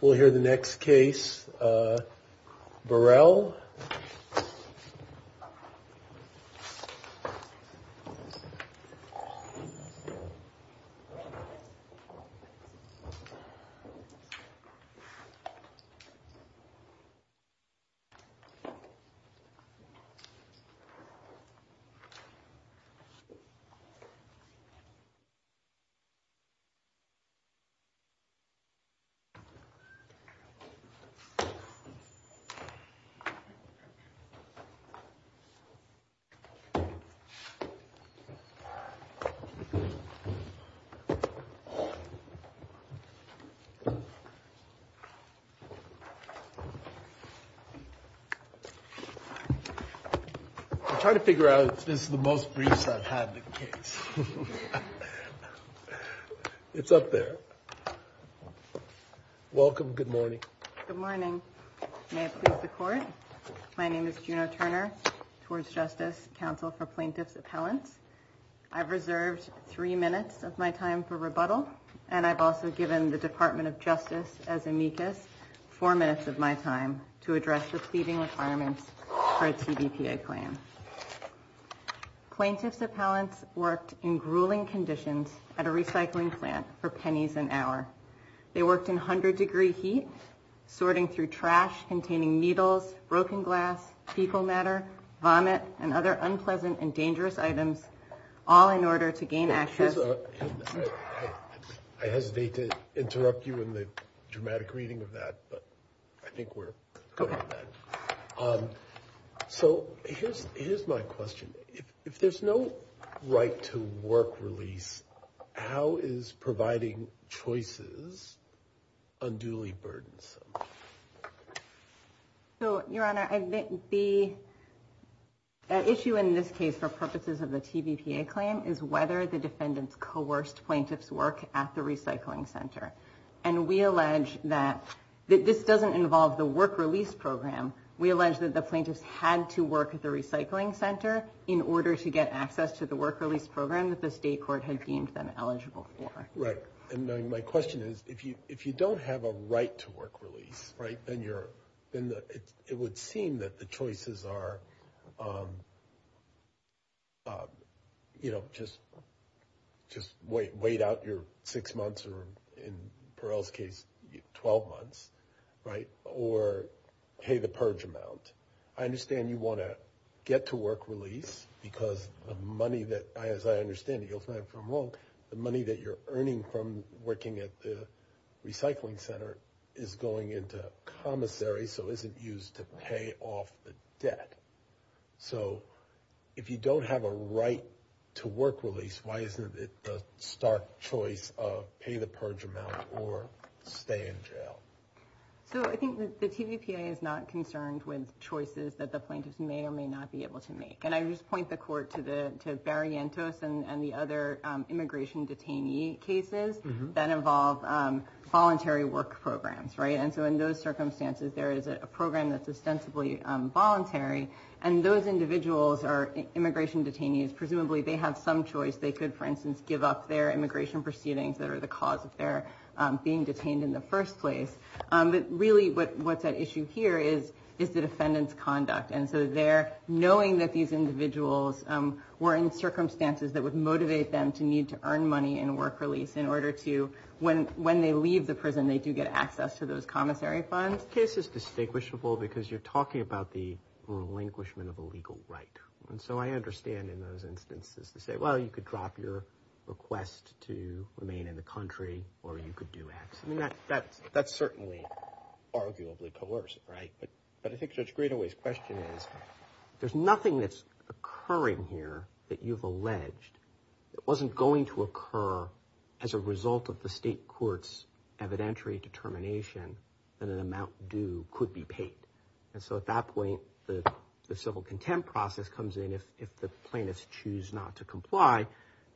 We'll hear the next case, Burrell. I'm trying to figure out if this is the most brief I've had. It's up there. Welcome. Good morning. Good morning. May it please the Court. My name is Juno Turner, TORS Justice Counsel for Plaintiffs' Appellants. I've reserved three minutes of my time for rebuttal, and I've also given the Department of Justice as amicus four minutes of my time to address the seating requirements for a CBTA claim. Plaintiffs' Appellants worked in grueling conditions at a recycling plant for pennies an hour. They worked in 100-degree heat, sorting through trash containing needles, broken glass, fecal matter, vomit, and other unpleasant and dangerous items, all in order to gain access. I hesitate to interrupt you in the dramatic reading of that, but I think we're good on that. So here's my question. If there's no right to work relief, how is providing choices unduly burdensome? So, Your Honor, the issue in this case for purposes of the CBTA claim is whether the defendants coerced plaintiffs' work at the recycling center. And we allege that this doesn't involve the work release program. We allege that the plaintiffs had to work at the recycling center in order to get access to the work release program that the state court had deemed them eligible for. Right. And my question is, if you don't have a right to work release, right, then it would seem that the choices are, you know, just wait out your six months or, in Perel's case, 12 months, right, or pay the purge amount. I understand you want to get to work release because the money that, as I understand it, Your Honor, from RONC, the money that you're earning from working at the recycling center is going into commissary, so isn't used to pay off the debt. So if you don't have a right to work release, why isn't it the stark choice of pay the purge amount or stay in jail? So I think the TVPA is not concerned with choices that the plaintiffs may or may not be able to make. And I just point the court to Bariantos and the other immigration detainee cases that involve voluntary work programs, right. And so in those circumstances, there is a program that's ostensibly voluntary. And those individuals are immigration detainees. Presumably they have some choice. They could, for instance, give up their immigration proceedings that are the cause of their being detained in the first place. But really what's at issue here is the defendant's conduct. And so they're knowing that these individuals were in circumstances that would motivate them to need to earn money and work release in order to, when they leave the prison, they do get access to those commissary funds. That case is distinguishable because you're talking about the relinquishment of a legal right. And so I understand in those instances to say, well, you could drop your request to remain in the country or you could do that. That's certainly arguably coercive, right. But I think Judge Gradaway's question is, there's nothing that's occurring here that you've alleged. It wasn't going to occur as a result of the state court's evidentiary determination that an amount due could be paid. And so at that point, the civil contempt process comes in if the plaintiffs choose not to comply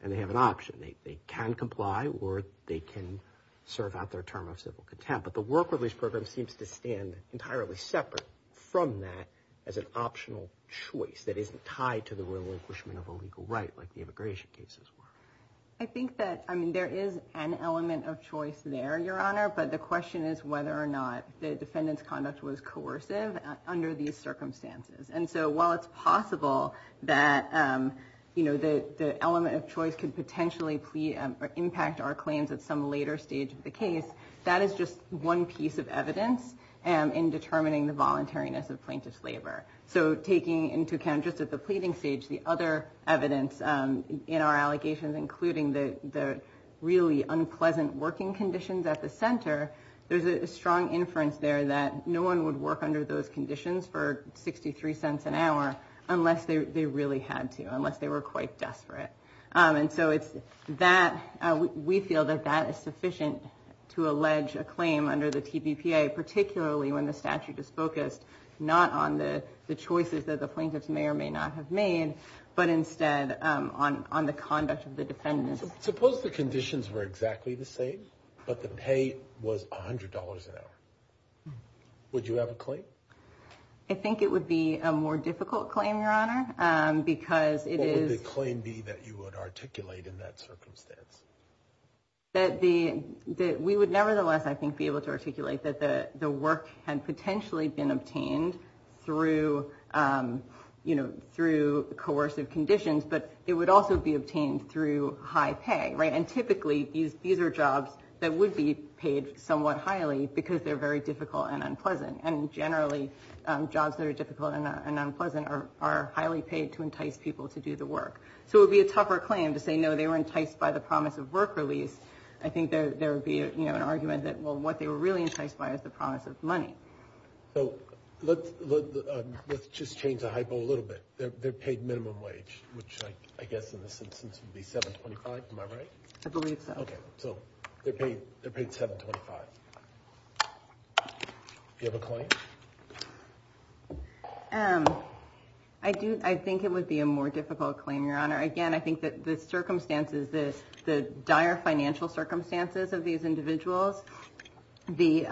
and they have an option. They can comply or they can serve out their term of civil contempt. But the work release program seems to stand entirely separate from that as an optional choice that isn't tied to the relinquishment of a legal right like the immigration cases were. I think that, I mean, there is an element of choice there, Your Honor. But the question is whether or not the defendant's conduct was coercive under these circumstances. And so while it's possible that, you know, the element of choice could potentially impact our claims at some later stage of the case, that is just one piece of evidence in determining the voluntariness of plaintiff's waiver. So taking into account just at the pleading stage the other evidence in our allegations, including the really unpleasant working conditions at the center, there's a strong inference there that no one would work under those conditions for 63 cents an hour unless they really had to, unless they were quite desperate. And so we feel that that is sufficient to allege a claim under the TPPA, particularly when the statute is focused not on the choices that the plaintiff may or may not have made, but instead on the conduct of the defendant. Suppose the conditions were exactly the same, but the pay was $100 an hour. Would you have a claim? I think it would be a more difficult claim, Your Honor, because it is... What would the claim be that you would articulate in that circumstance? That we would nevertheless, I think, be able to articulate that the work had potentially been obtained through, you know, through coercive conditions, but it would also be obtained through high pay, right? And typically these are jobs that would be paid somewhat highly because they're very difficult and unpleasant. And generally jobs that are difficult and unpleasant are highly paid to entice people to do the work. So it would be a tougher claim to say, no, they were enticed by the promise of work release. I think there would be, you know, an argument that, well, what they were really enticed by is the promise of money. So let's just change the hypo a little bit. They're paid minimum wage, which I guess in this instance would be $7.25, am I right? I believe so. Okay, so they're paid $7.25. Do you have a claim? I think it would be a more difficult claim, Your Honor. Again, I think that the circumstances, the dire financial circumstances of these individuals, the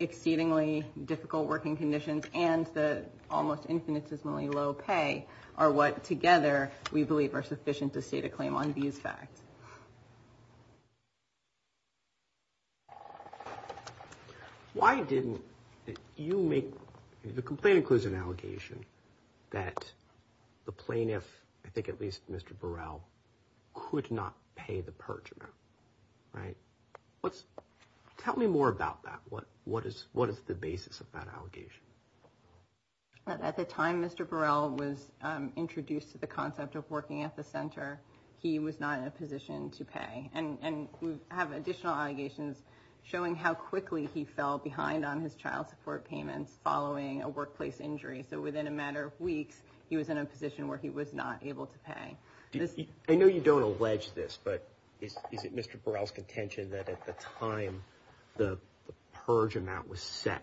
exceedingly difficult working conditions, and the almost infinitesimally low pay are what, together, we believe are sufficient to state a claim on these facts. Why didn't you make, if the complaint includes an allegation, that the plaintiff, I think at least Mr. Burrell, could not pay the purge amount, right? Tell me more about that. What is the basis of that allegation? At the time Mr. Burrell was introduced to the concept of working at the center, he was not in a position to pay. And we have additional allegations showing how quickly he fell behind on his child support payments following a workplace injury. So within a matter of weeks, he was in a position where he was not able to pay. I know you don't allege this, but is it Mr. Burrell's contention that at the time the purge amount was set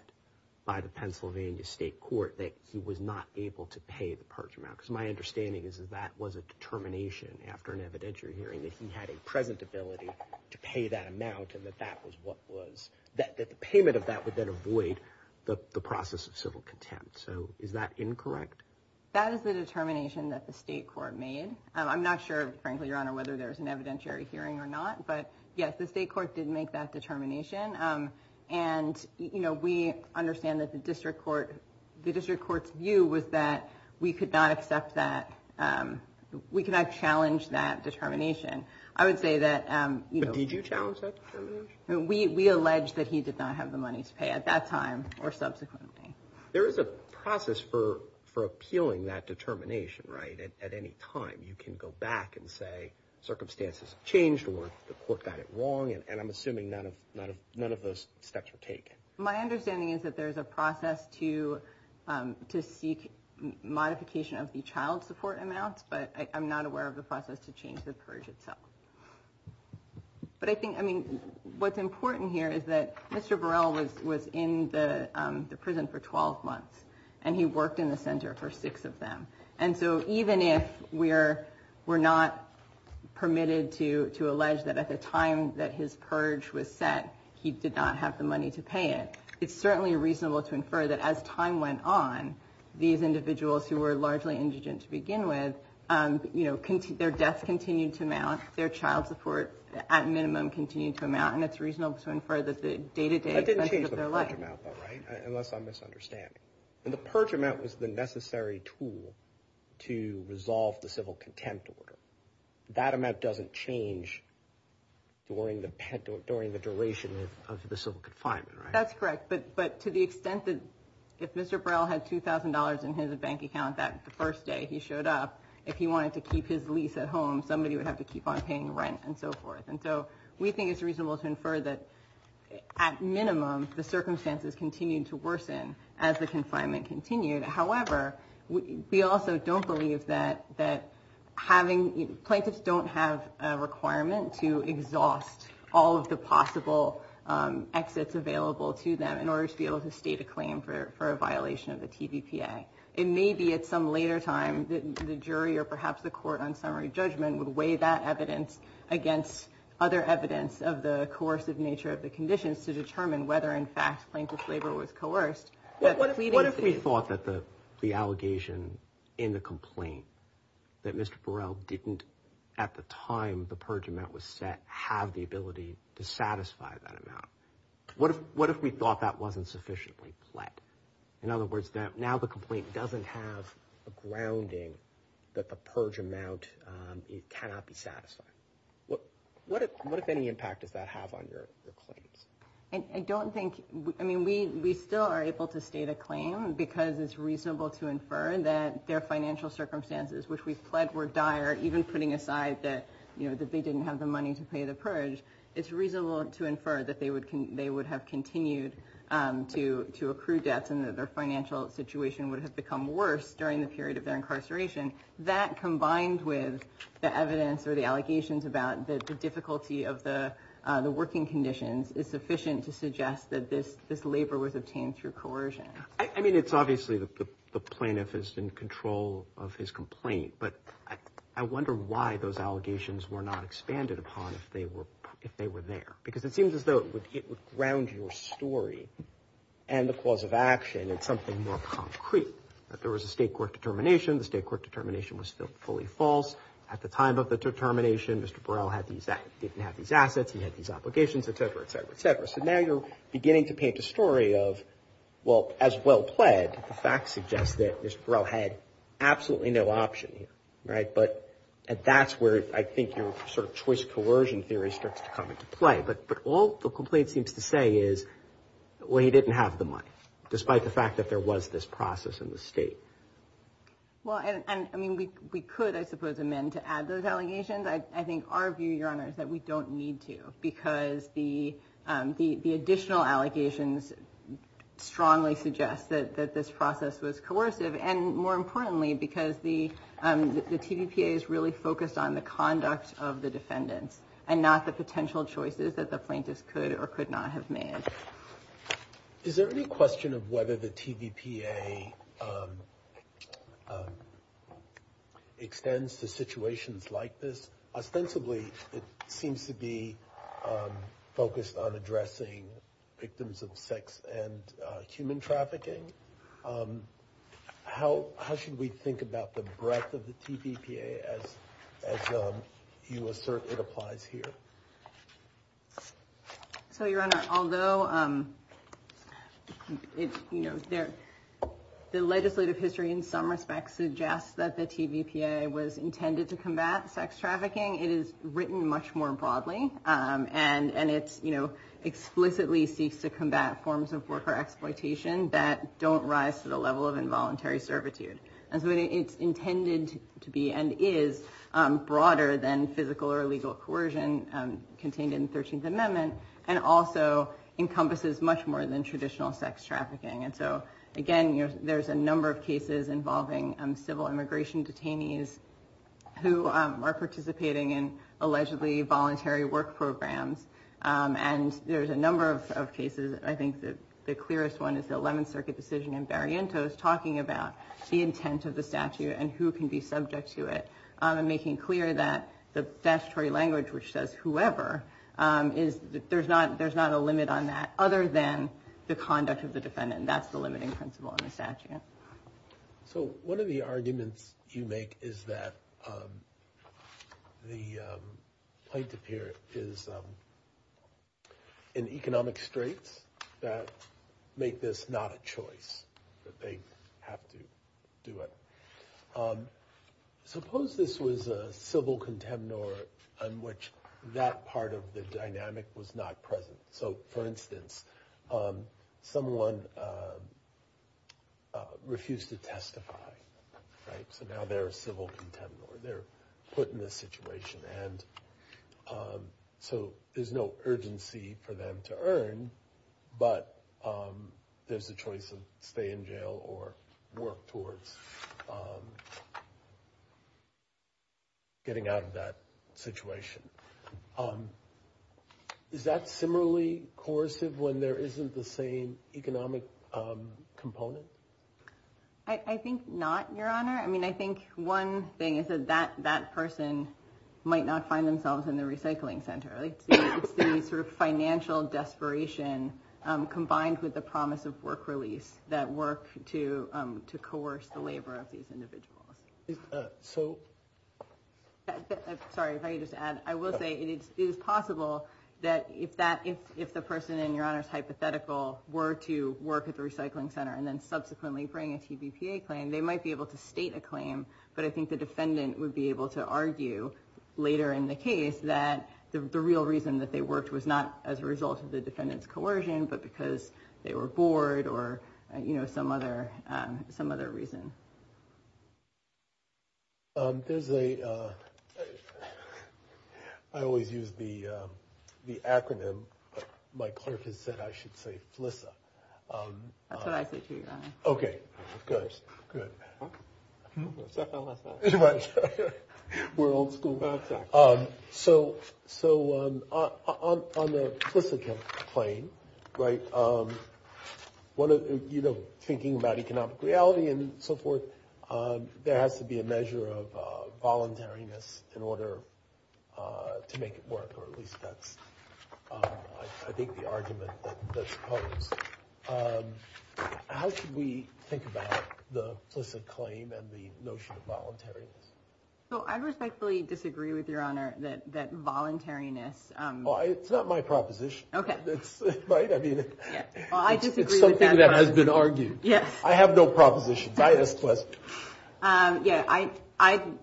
by the Pennsylvania State Court, that he was not able to pay the purge amount? Because my understanding is that that was a determination after an evidentiary hearing, that he had a present ability to pay that amount and that the payment of that would then avoid the process of civil contempt. So is that incorrect? That is a determination that the state court made. I'm not sure, frankly, Your Honor, whether there's an evidentiary hearing or not. But yes, the state court did make that determination. And we understand that the district court's view was that we could not challenge that determination. But did you challenge that determination? We allege that he did not have the money to pay at that time or subsequently. There is a process for appealing that determination, right, at any time. You can go back and say circumstances change or the court got it wrong, and I'm assuming none of those steps were taken. My understanding is that there's a process to seek modification of the child support amount, but I'm not aware of the process to change the purge itself. But I think, I mean, what's important here is that Mr. Burrell was in the prison for 12 months, and he worked in the center for six of them. And so even if we're not permitted to allege that at the time that his purge was set, he did not have the money to pay it, it's certainly reasonable to infer that as time went on, these individuals who were largely indigent to begin with, their death continued to amount, their child support at minimum continued to amount, and it's reasonable to infer that the day-to-day expenses were less. That didn't change the purge amount, though, right, unless I'm misunderstanding. The purge amount was the necessary tool to resolve the civil contempt order. That amount doesn't change during the duration of the civil confinement, right? That's correct, but to the extent that if Mr. Burrell had $2,000 in his bank account that first day he showed up, if he wanted to keep his lease at home, somebody would have to keep on paying rent and so forth. And so we think it's reasonable to infer that, at minimum, the circumstances continued to worsen as the confinement continued. However, we also don't believe that having, plaintiffs don't have a requirement to exhaust all of the possible exits available to them in order to be able to state a claim for a violation of the TVPA. It may be at some later time that the jury or perhaps the court on summary judgment would weigh that evidence against other evidence of the coercive nature of the conditions to determine whether, in fact, plaintiff's labor was coerced. What if we thought that the allegation in the complaint that Mr. Burrell didn't, at the time the purge amount was set, have the ability to satisfy that amount? What if we thought that wasn't sufficiently flat? In other words, now the complaint doesn't have a grounding that the purge amount cannot be satisfied. What, if any, impact does that have on your claim? I don't think, I mean, we still are able to state a claim because it's reasonable to infer that their financial circumstances, which we fled were dire, even putting aside that, you know, that they didn't have the money to pay the purge. It's reasonable to infer that they would have continued to accrue debts and that their financial situation would have become worse during the period of their incarceration. That combined with the evidence or the allegations about the difficulty of the working conditions is sufficient to suggest that this labor was obtained through coercion. I mean, it's obviously the plaintiff is in control of his complaint, but I wonder why those allegations were not expanded upon if they were there. Because it seems as though it would ground your story and the cause of action in something more concrete. That there was a state court determination. The state court determination was still fully false. At the time of the determination, Mr. Burrell didn't have these assets. He had these obligations, et cetera, et cetera, et cetera. So now you're beginning to paint a story of, well, as well pled, but the facts suggest that Mr. Burrell had absolutely no option, right? But that's where I think your sort of choice coercion theory starts to come into play. But all the complaint seems to say is, well, he didn't have the money, despite the fact that there was this process in the state. Well, I mean, we could, I suppose, amend to add those allegations. I think our view, Your Honor, is that we don't need to, because the additional allegations strongly suggest that this process was coercive. And more importantly, because the TVPA is really focused on the conduct of the defendant and not the potential choices that the plaintiff could or could not have made. Is there any question of whether the TVPA extends to situations like this? Ostensibly, it seems to be focused on addressing victims of sex and human trafficking. How should we think about the breadth of the TVPA as you assert it applies here? So, Your Honor, although the legislative history in some respects suggests that the TVPA was intended to combat sex trafficking, it is written much more broadly. And it explicitly seeks to combat forms of worker exploitation that don't rise to the level of involuntary servitude. And so it's intended to be and is broader than physical or legal coercion contained in the 13th Amendment and also encompasses much more than traditional sex trafficking. And so, again, there's a number of cases involving civil immigration detainees who are participating in allegedly voluntary work programs. And there's a number of cases. I think the clearest one is the 11th Circuit decision in Barrientos talking about the intent of the statute and who can be subject to it, making clear that the statutory language, which says whoever, there's not a limit on that other than the conduct of the defendant. And that's the limiting principle in the statute. So one of the arguments you make is that the plaintiff here is in economic straits that make this not a choice, that they have to do it. Suppose this was a civil contendor on which that part of the dynamic was not present. So, for instance, someone refused to testify. So now they're a civil contendor. They're put in this situation. And so there's no urgency for them to earn, but there's the choice of stay in jail or work towards getting out of that situation. Is that similarly coercive when there isn't the same economic component? I think not, Your Honor. I mean, I think one thing is that that person might not find themselves in the recycling center. It's the sort of financial desperation combined with the promise of work release that works to coerce the labor of these individuals. Sorry, if I could just add. I will say it is possible that if the person, in Your Honor's hypothetical, were to work at the recycling center and then subsequently bring a CBTA claim, they might be able to state a claim, but I think the defendant would be able to argue later in the case that the real reason that they worked was not as a result of the defendant's coercion, but because they were bored or some other reason. I always use the acronym. My clerk has said I should say FLISA. That's what I think, Your Honor. Okay, good. FLISA. Right. We're old school about that. So on the FLISA claim, right, thinking about economic reality and so forth, there has to be a measure of voluntariness in order to make it work, or at least that's, I think, the argument that's posed. How should we think about the FLISA claim and the notion of voluntariness? I respectfully disagree with Your Honor that voluntariness... Well, it's not my proposition. Okay. Right? Well, I disagree with that. It's something that has been argued. Yes. I have no proposition.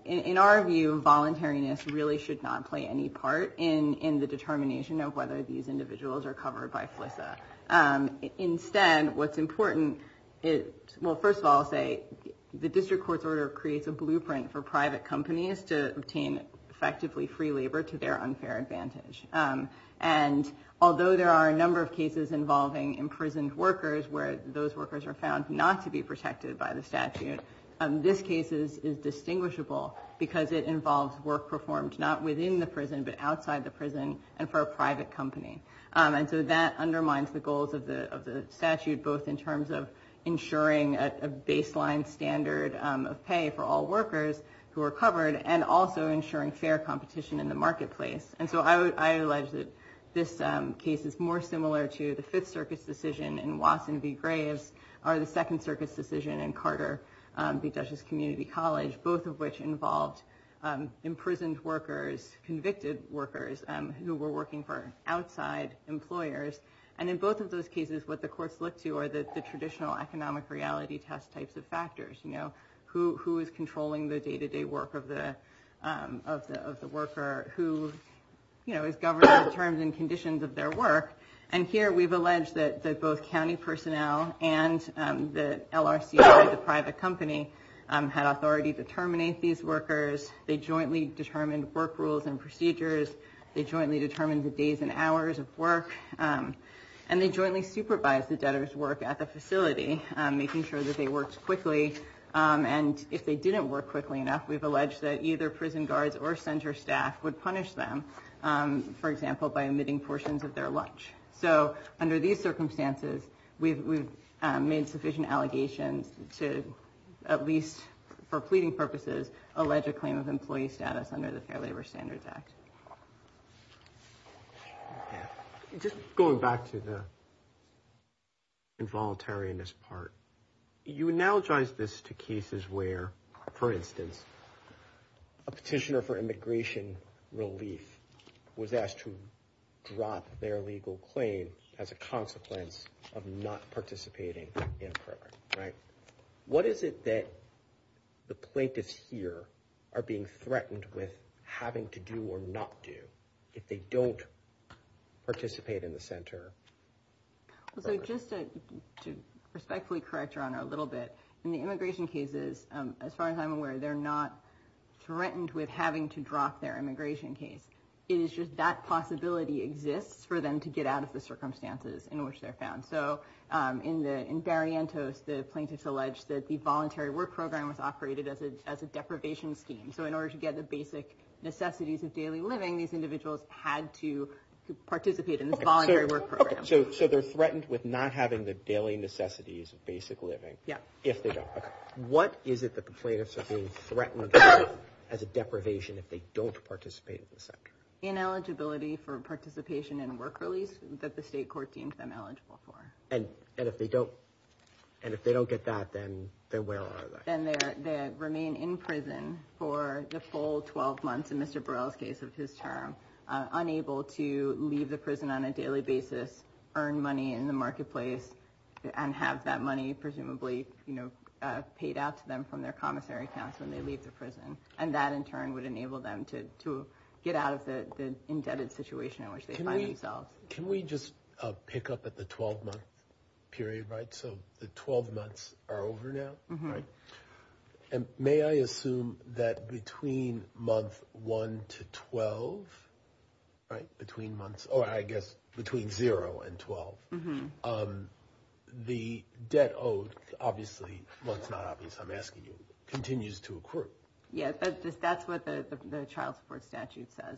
In our view, voluntariness really should not play any part in the determination of whether these individuals are covered by FLISA. Instead, what's important is, well, first of all, the district court's order creates a blueprint for private companies to obtain effectively free labor to their unfair advantage. And although there are a number of cases involving imprisoned workers where those workers are found not to be protected by the statute, this case is distinguishable because it involves work performed not within the prison but outside the prison and for a private company. And so that undermines the goals of the statute, both in terms of ensuring a baseline standard of pay for all workers who are covered and also ensuring fair competition in the marketplace. And so I allege that this case is more similar to the Fifth Circuit's decision in Watson v. Graves or the Second Circuit's decision in Carter v. who were working for outside employers. And in both of those cases, what the courts look to are the traditional economic reality test types of factors. Who is controlling the day-to-day work of the worker? Who is governing the terms and conditions of their work? And here we've alleged that both county personnel and the LRCA, the private company, had authority to terminate these workers. They jointly determined work rules and procedures. They jointly determined the days and hours of work. And they jointly supervised the debtors' work at the facility, making sure that they worked quickly. And if they didn't work quickly enough, we've alleged that either prison guards or center staff would punish them, for example, by omitting portions of their lunch. So under these circumstances, we've made sufficient allegations to at least, for pleading purposes, allege a claim of employee status under the Fair Labor Standards Act. Just going back to the involuntariness part, you analogize this to cases where, for instance, a petitioner for immigration relief was asked to drop their legal claim as a consequence of not participating in a program, right? What is it that the plaintiffs here are being threatened with having to do or not do if they don't participate in the center? So just to respectfully correct Your Honor a little bit, in the immigration cases, as far as I'm aware, they're not threatened with having to drop their immigration case. It is just that possibility exists for them to get out of the circumstances in which they're found. In Barrientos, the plaintiffs allege that the voluntary work program was operated as a deprivation scheme. So in order to get the basic necessities of daily living, these individuals had to participate in the voluntary work program. So they're threatened with not having the daily necessities of basic living if they don't participate. What is it that the plaintiffs are being threatened with as a deprivation if they don't participate in the center? Ineligibility for participation in work relief that the state court deems them eligible for. And if they don't get that, then where are they? Then they remain in prison for the full 12 months, in Mr. Borrell's case of his term, unable to leave the prison on a daily basis, earn money in the marketplace, and have that money presumably paid out to them from their commissary accounts when they leave the prison. And that, in turn, would enable them to get out of the indebted situation in which they find themselves. Can we just pick up at the 12-month period? So the 12 months are over now. May I assume that between months 1 to 12, or I guess between 0 and 12, the debt owed, obviously, well, it's not obvious, I'm asking you, continues to accrue? Yes, that's what the child support statute says.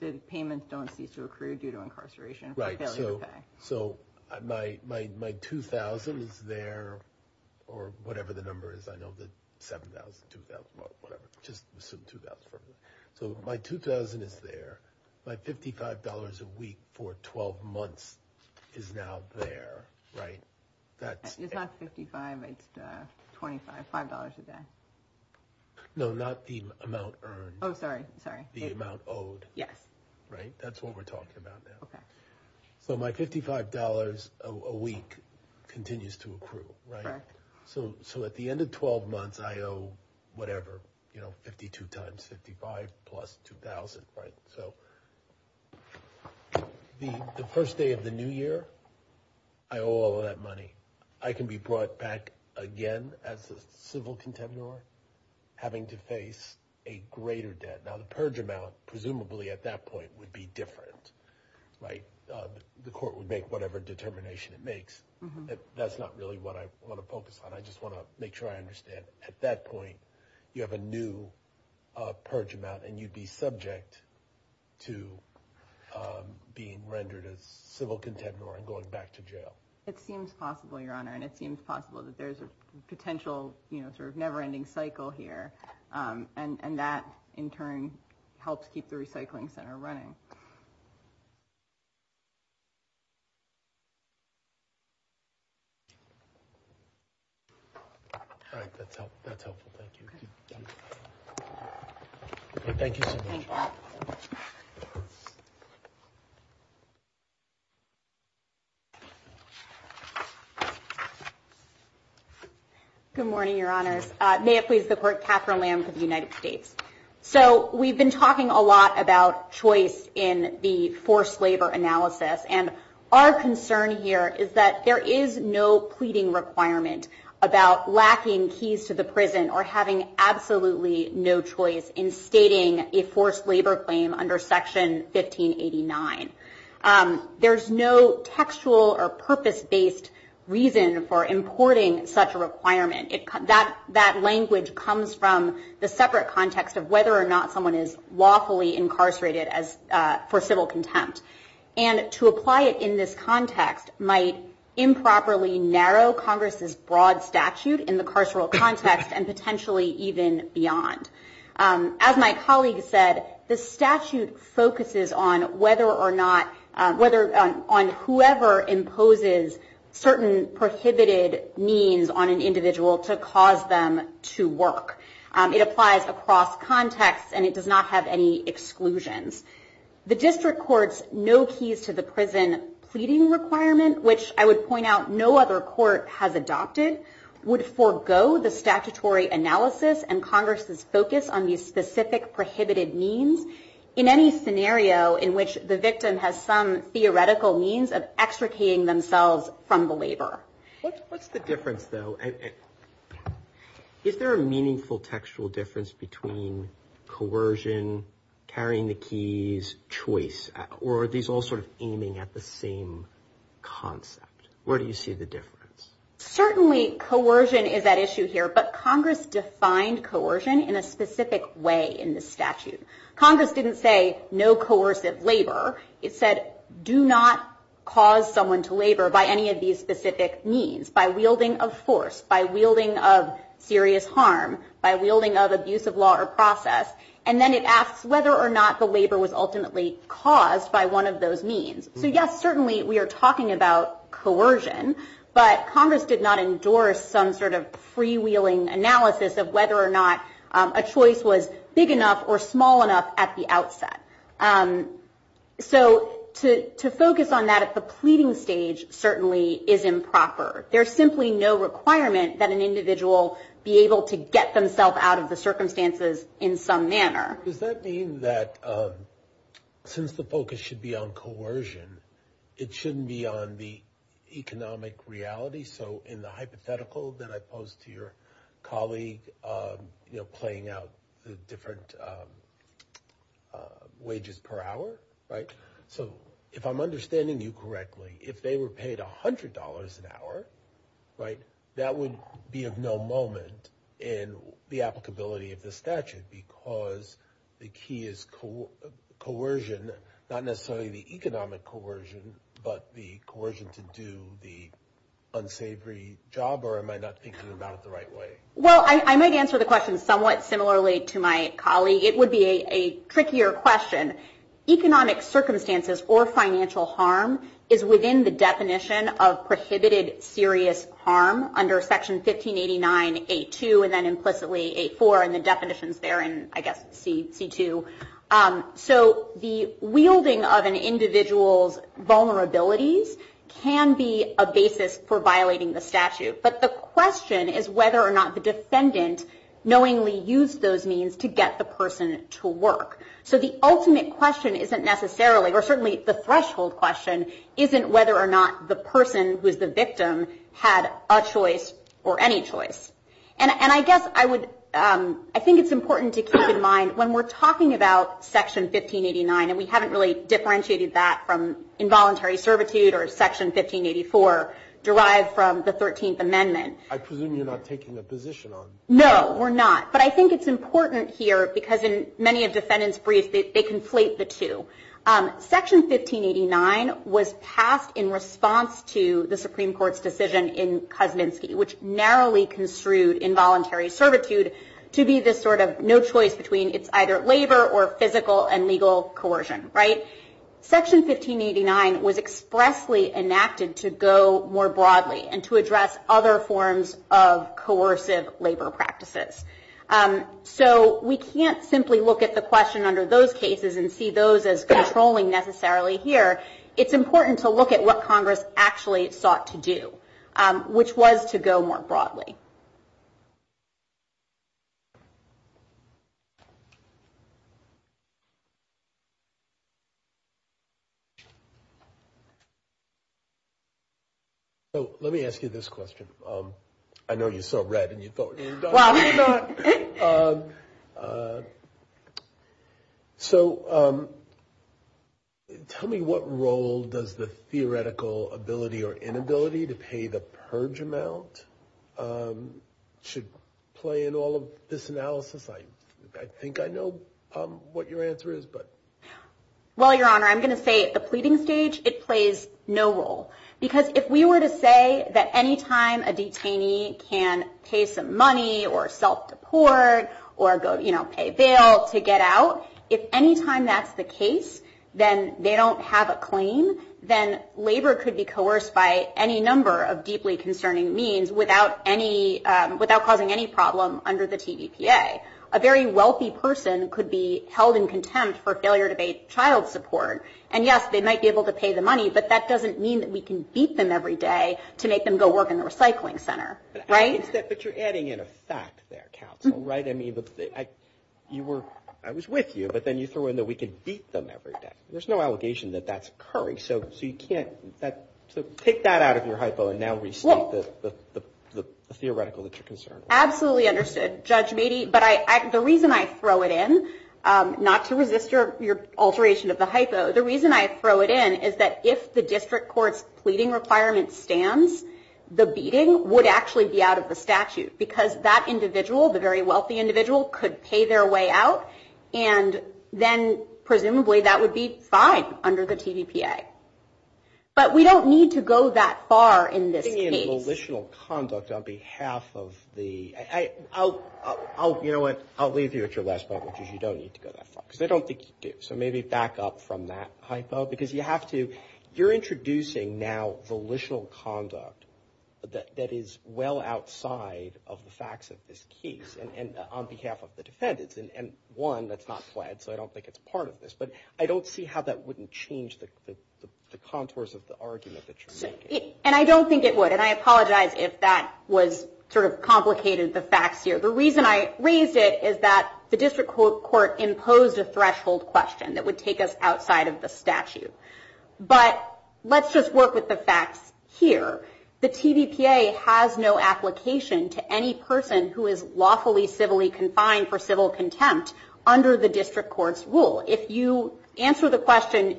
The payments don't cease to accrue due to incarceration. Right, so my $2,000 is there, or whatever the number is, I know that $7,000, $2,000, whatever, just assume $2,000. So my $2,000 is there. My $55 a week for 12 months is now there, right? It's not $55, it's $25, $5 a day. No, not the amount earned. Oh, sorry, sorry. The amount owed. Yes. Right, that's what we're talking about now. Okay. Well, my $55 a week continues to accrue, right? Correct. So at the end of 12 months, I owe whatever, you know, 52 times 55 plus 2,000, right? So the first day of the new year, I owe all of that money. I can be brought back again as a civil contender having to face a greater debt. Now, the purge amount, presumably at that point, would be different, right? The court would make whatever determination it makes. That's not really what I want to focus on. I just want to make sure I understand. At that point, you have a new purge amount, and you'd be subject to being rendered a civil contender and going back to jail. It seems possible, Your Honor, and it seems possible that there's a potential, you know, sort of never-ending cycle here, and that, in turn, helps keep the recycling center running. Good morning, Your Honor. May it please the Court, Catherine Lamb for the United States. So we've been talking a lot about choice in the forced labor analysis, and our concern here is that there is no pleading requirement about lacking keys to the prison or having absolutely no choice in stating a forced labor claim under Section 1589. There's no textual or purpose-based reason for importing such a requirement. That language comes from the separate context of whether or not someone is lawfully incarcerated for civil contempt, and to apply it in this context might improperly narrow Congress's broad statute in the carceral context and potentially even beyond. As my colleague said, the statute focuses on whether or not, on whoever imposes certain prohibited means on an individual to cause them to work. It applies across contexts, and it does not have any exclusions. The District Court's no-keys-to-the-prison pleading requirement, which I would point out no other court has adopted, would forego the statutory analysis and Congress's focus on these specific prohibited means in any scenario in which the victim has some theoretical means of extricating themselves from the labor. What's the difference, though? Is there a meaningful textual difference between coercion, carrying the keys, choice, or are these all sort of aiming at the same concept? Where do you see the difference? Certainly coercion is at issue here, but Congress defined coercion in a specific way in the statute. It said do not cause someone to labor by any of these specific means, by wielding of force, by wielding of serious harm, by wielding of abuse of law or process, and then it asks whether or not the labor was ultimately caused by one of those means. Yes, certainly we are talking about coercion, but Congress did not endorse some sort of freewheeling analysis of whether or not a choice was big enough or small enough at the outset. So to focus on that at the pleading stage certainly is improper. There's simply no requirement that an individual be able to get themselves out of the circumstances in some manner. Does that mean that since the focus should be on coercion, it shouldn't be on the economic reality? So in the hypothetical that I posed to your colleague, playing out the different wages per hour, so if I'm understanding you correctly, if they were paid $100 an hour, that would be of no moment in the applicability of the statute because the key is coercion, not necessarily the economic coercion, but the coercion to do the unsavory job, or am I not thinking about it the right way? Well, I might answer the question somewhat similarly to my colleague. It would be a trickier question. Economic circumstances or financial harm is within the definition of prohibited serious harm under Section 1589.8.2 and then implicitly 8.4 and the definitions there in, I guess, C.2. So the wielding of an individual's vulnerabilities can be a basis for violating the statute, but the question is whether or not the defendant knowingly used those means to get the person to work. So the ultimate question isn't necessarily, or certainly the threshold question, isn't whether or not the person who is the victim had a choice or any choice. And I guess I would, I think it's important to keep in mind, when we're talking about Section 1589 and we haven't really differentiated that from involuntary servitude or Section 1584 derived from the 13th Amendment. I presume you're not taking a position on it. No, we're not. But I think it's important here because in many of the defendant's briefs, they conflate the two. Section 1589 was passed in response to the Supreme Court's decision in Kuzninski, which narrowly construed involuntary servitude to be this sort of no choice between it's either labor or physical and legal coercion, right? Section 1589 was expressly enacted to go more broadly and to address other forms of coercive labor practices. So we can't simply look at the question under those cases and see those as controlling necessarily here. It's important to look at what Congress which was to go more broadly. So let me ask you this question. I know you saw red and you thought... Well... So tell me what role does the theoretical ability or inability to pay the purge amount should play in all of this analysis? I think I know what your answer is, but... Well, Your Honor, I'm going to say the pleading stage, it plays no role. Because if we were to say that anytime a detainee can pay some money or self-support or go pay bail to get out, if anytime that's the case, then they don't have a claim, then labor could be coerced by any number of deeply concerning means without causing any problem under the TVPA. A very wealthy person could be held in contempt for failure to pay child support. And yes, they might be able to pay the money, but that doesn't mean that we can beat them every day to make them go work in the recycling center, right? But you're adding in a fact there, counsel, right? I mean, I was with you, but then you threw in that we could beat them every day. There's no allegation that that's occurring. So you can't... So take that out of your hypo and now restate the theoretical that you're concerned with. Absolutely understood, Judge Meadey. But the reason I throw it in, not to resist your alteration of the hypo, the reason I throw it in is that if the district court's pleading requirement stands, the beating would actually be out of the statute because that individual, the very wealthy individual, could pay their way out and then presumably that would be fine under the TVPA. But we don't need to go that far in this case. Volitional conduct on behalf of the... You know what? I'll leave you at your last moment because you don't need to go that far. So maybe back up from that hypo because you have to... You're introducing now volitional conduct that is well outside of the facts of this case on behalf of the defendants. And one, that's not flagged, so I don't think it's part of this, but I don't see how that wouldn't change the contours of the argument that you're making. And I don't think it would, and I apologize if that was sort of complicated, the facts here. The reason I raised it is that the district court imposed a threshold question that would take us outside of the statute. But let's just work with the facts here. The TVPA has no application to any person who is lawfully civilly confined for civil contempt under the district court's rule. If you answer the question,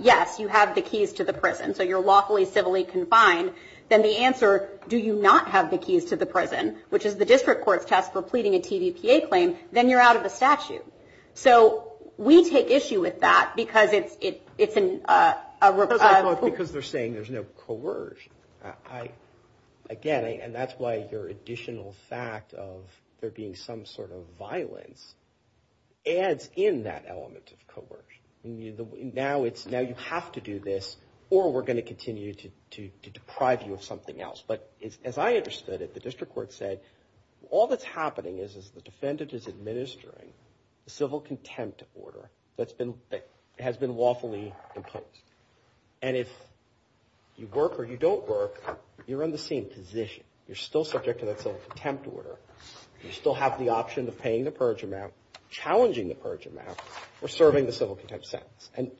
yes, you have the keys to the prison, so you're lawfully civilly confined, then the answer, do you not have the keys to the prison, which is the district court test for pleading a TVPA claim, then you're out of the statute. So we take issue with that because it's a... Because they're saying there's no coercion. Again, and that's why your additional fact of there being some sort of violence adds in that element of coercion. Now you have to do this or we're going to continue to deprive you of something else. But as I understood it, the district court said all that's happening is the defendant is administering a civil contempt order that has been lawfully imposed. And if you work or you don't work, you're in the same position. You're still subject to the civil contempt order. You still have the option of paying the purge amount, challenging the purge amount, or serving the civil contempt sentence. And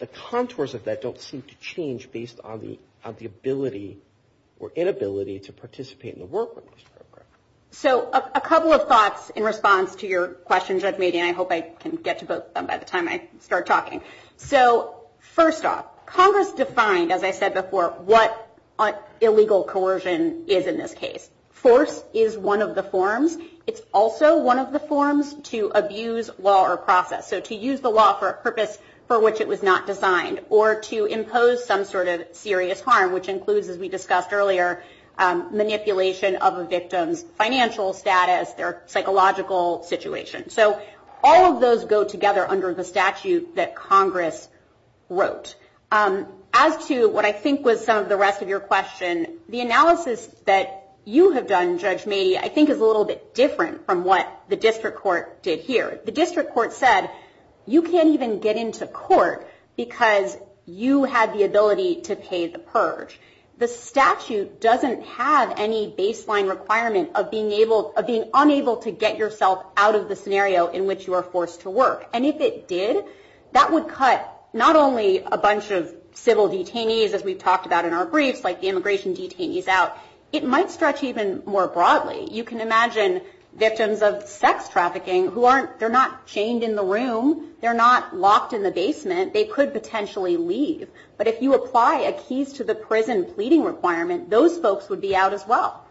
the contours of that don't seem to change based on the ability or inability to participate in the work. So a couple of thoughts in response to your question, Judge Mead, and I hope I can get to both by the time I start talking. So first off, Congress defined, as I said before, what illegal coercion is in this case. Force is one of the forms. It's also one of the forms to abuse law or process. So to use the law for a purpose for which it was not designed or to impose some sort of serious harm, which includes, as we discussed earlier, manipulation of a victim's financial status or psychological situation. So all of those go together under the statute that Congress wrote. As to what I think was some of the rest of your question, the analysis that you have done, Judge Mead, I think is a little bit different from what the district court did here. The district court said, you can't even get into court because you have the ability to pay the purge. The statute doesn't have any baseline requirement of being unable to get yourself out of the scenario in which you are forced to work. And if it did, that would cut not only a bunch of civil detainees, as we've talked about in our brief, like the immigration detainees out, it might stretch even more broadly. You can imagine victims of sex trafficking who aren't, they're not chained in the room, they're not locked in the basement, they could potentially leave. But if you apply a keys to the prison fleeting requirement, those folks would be out as well.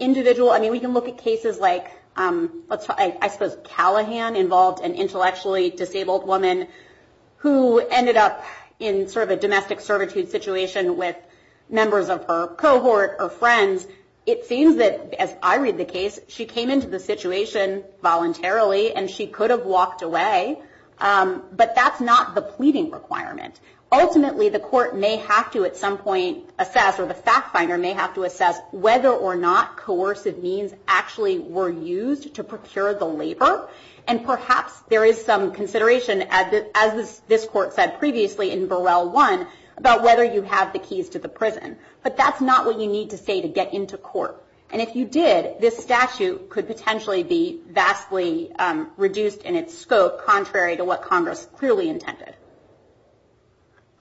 Individual, I mean, we can look at cases like, I suppose, Callahan involved an intellectually disabled woman who ended up in sort of a domestic servitude situation with members of her cohort or friends. It seems that, as I read the case, she came into the situation voluntarily and she could have walked away. But that's not the pleading requirement. Ultimately, the court may have to, at some point, assess, or the fact finder may have to assess whether or not coercive means actually were used to procure the labor. And perhaps there is some consideration, as this court said previously in Burrell 1, about whether you have the keys to the prison. But that's not what you need to say to get into court. And if you did, this statute could potentially be vastly reduced in its scope, contrary to what Congress clearly intended.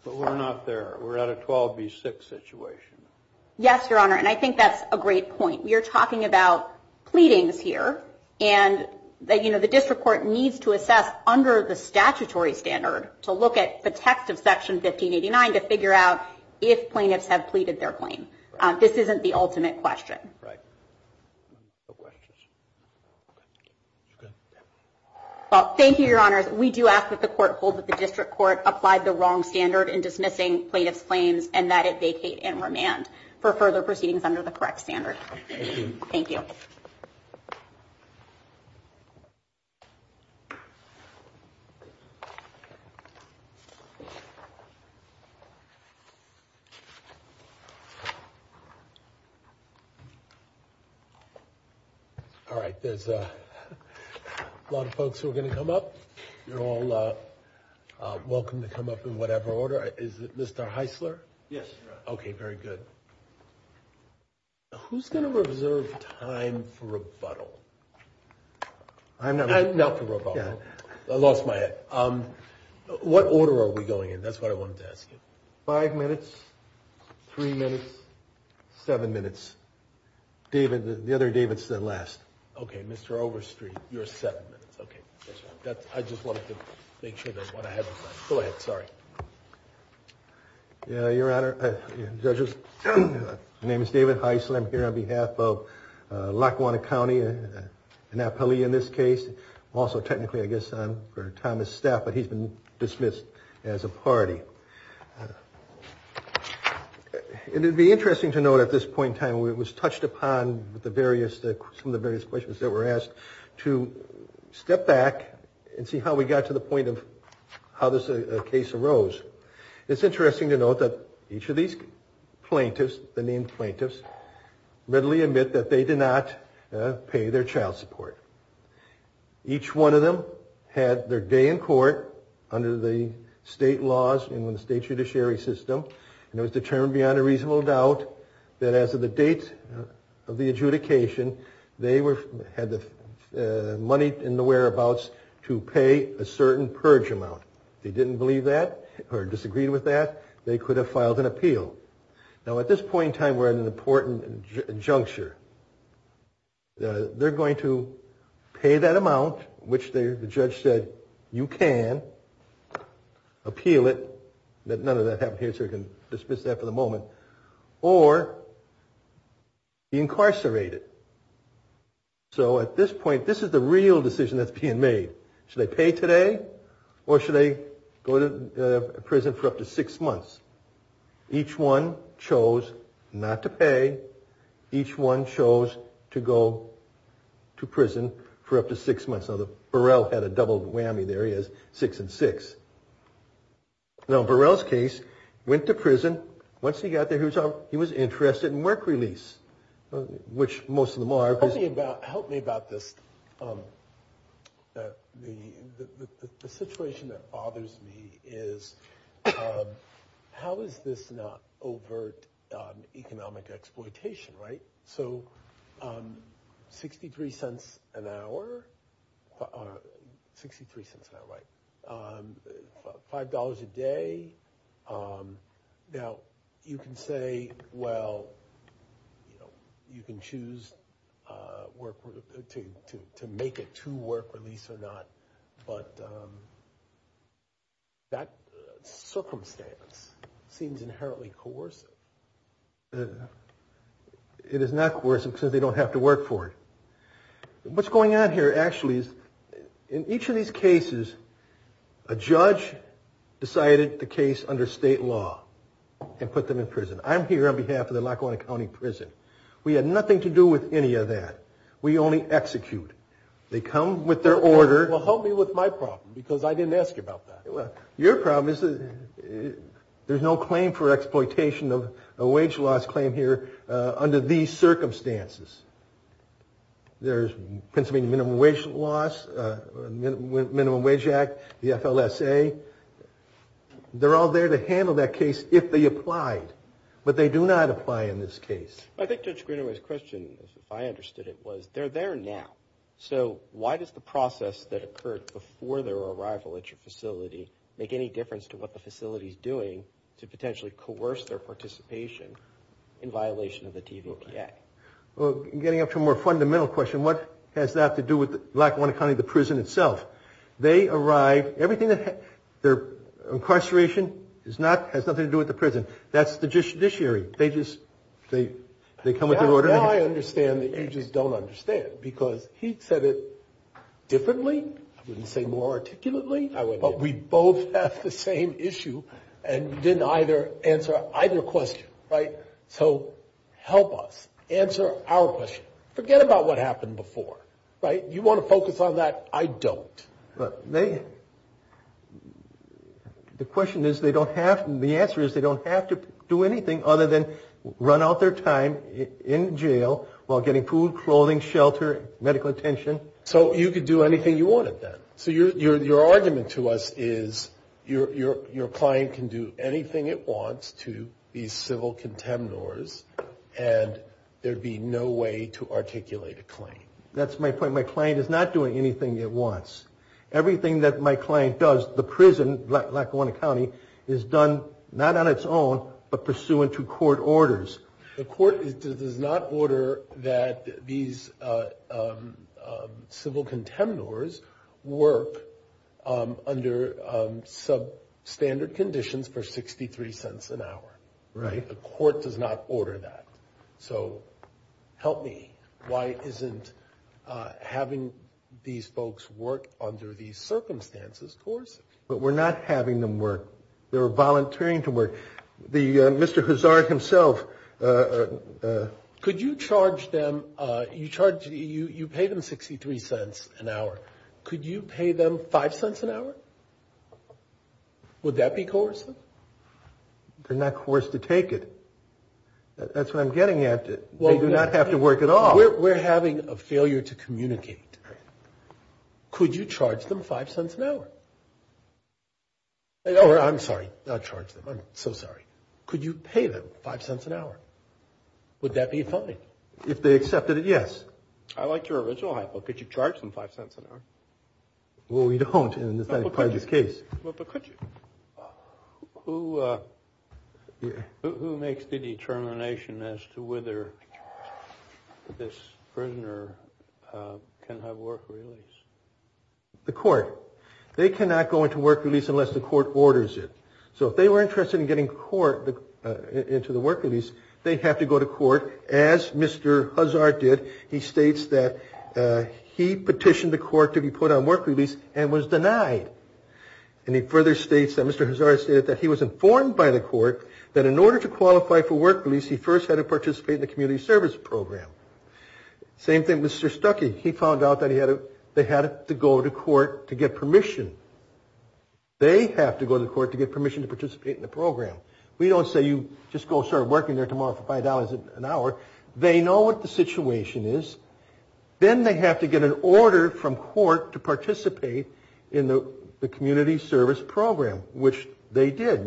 But we're not there. We're at a 12B6 situation. Yes, Your Honor, and I think that's a great point. You're talking about pleadings here, and the district court needs to assess under the statutory standard to look at the text of Section 1589 to figure out if plaintiffs have pleaded their claim. This isn't the ultimate question. Right. Thank you, Your Honor. We do ask that the court hold that the district court applied the wrong standard in dismissing plaintiff's claims, and that it vacate and remand for further proceedings under the correct standard. Thank you. All right. There's a lot of folks who are going to come up. You're all welcome to come up in whatever order. Is it Mr. Heisler? Yes, Your Honor. Okay, very good. Who's going to reserve time for rebuttal? I'm not going to. Not for rebuttal. I lost my head. What order are we going in? That's what I wanted to ask you. Five minutes, three minutes, seven minutes. The other David's the last. Okay, Mr. Overstreet, you're seven minutes. I just wanted to make sure that's what I had on time. Go ahead. Sorry. Your Honor, Judges, my name is David Heisler. I'm here on behalf of Lackawanna County, an appellee in this case. Also, technically, I guess, I'm for Thomas Stafford. He's been dismissed as a party. It would be interesting to note at this point in time, it was touched upon some of the various questions that were asked to step back and see how we got to the point of how this case arose. It's interesting to note that each of these plaintiffs, the named plaintiffs, readily admit that they did not pay their child support. Each one of them had their day in court under the state laws in the state judiciary system, and it was determined beyond a reasonable doubt that after the date of the adjudication, they had the money in the whereabouts to pay a certain purge amount. If they didn't believe that or disagreed with that, they could have filed an appeal. Now, at this point in time, we're at an important juncture. They're going to pay that amount, which the judge said, you can appeal it, let none of that happen here so we can dismiss that for the moment, or incarcerate it. So at this point, this is the real decision that's being made. Should they pay today, or should they go to prison for up to six months? Each one chose not to pay. Each one chose to go to prison for up to six months. Burrell had a double whammy there. He has six and six. Now, Burrell's case, went to prison. Once he got there, he was interested in work release, which most of them are. Help me about this. The situation that bothers me is, how is this not overt economic exploitation, right? So 63 cents an hour, $5 a day. Now, you can say, well, you can choose to make it to work release or not, but that circumstance seems inherently coercive. It is not coercive because they don't have to work for it. What's going on here, actually, in each of these cases, a judge decided the case under state law and put them in prison. I'm here on behalf of the Lackawanna County Prison. We had nothing to do with any of that. We only execute. They come with their order. Well, help me with my problem, because I didn't ask you about that. Well, your problem is, there's no claim for exploitation of a wage loss claim here under these circumstances. There's Pennsylvania Minimum Wage Act, the FLSA. They're all there to handle that case if they apply, but they do not apply in this case. I think Judge Greenaway's question, if I understood it, was they're there now, so why does the process that occurred before their arrival at your facility make any difference to what the facility's doing to potentially coerce their participation in violation of the TVO Act? Getting up to a more fundamental question, what has that to do with Lackawanna County, the prison itself? They arrive. Their incarceration has nothing to do with the prison. That's the judiciary. They come with their order. Now I understand the agents don't understand, because he said it differently, I wouldn't say more articulately, but we both have the same issue, and we didn't either answer either question, right? So help us answer our question. Forget about what happened before, right? You want to focus on that, I don't. The question is they don't have, and the answer is they don't have to do anything other than run out their time in jail while getting food, clothing, shelter, medical attention. So you could do anything you wanted then. So your argument to us is your client can do anything it wants to these civil contempt orders, and there'd be no way to articulate a claim. That's my point. My client is not doing anything it wants. Everything that my client does, the prison, Lackawanna County, is done not on its own, but pursuant to court orders. The court does not order that these civil contempt orders work under substandard conditions for 63 cents an hour. Right. The court does not order that. So help me. Why isn't having these folks work under these circumstances course? But we're not having them work. They're volunteering to work. Mr. Hazard himself. Could you charge them, you pay them 63 cents an hour. Could you pay them 5 cents an hour? Would that be coercive? They're not coerced to take it. That's what I'm getting at. They do not have to work at all. We're having a failure to communicate. Could you charge them 5 cents an hour? I'm sorry, not charge them. I'm so sorry. Could you pay them 5 cents an hour? Would that be a felony? If they accepted it, yes. I like your original hypo. Could you charge them 5 cents an hour? Well, we don't in this case. Who makes the determination as to whether this prisoner can have work release? The court. They cannot go into work release unless the court orders it. So if they were interested in getting court into the work release, they have to go to court as Mr. Hazard did. He states that he petitioned the court to be put on work release and was denied. And he further states that Mr. Hazard stated that he was informed by the court that in order to qualify for work release, he first had to participate in the community service program. Same thing with Mr. Stuckey. He found out that they had to go to court to get permission. They have to go to court to get permission to participate in the program. We don't say you just go start working there tomorrow for $5 an hour. They know what the situation is. Then they have to get an order from court to participate in the community service program, which they did.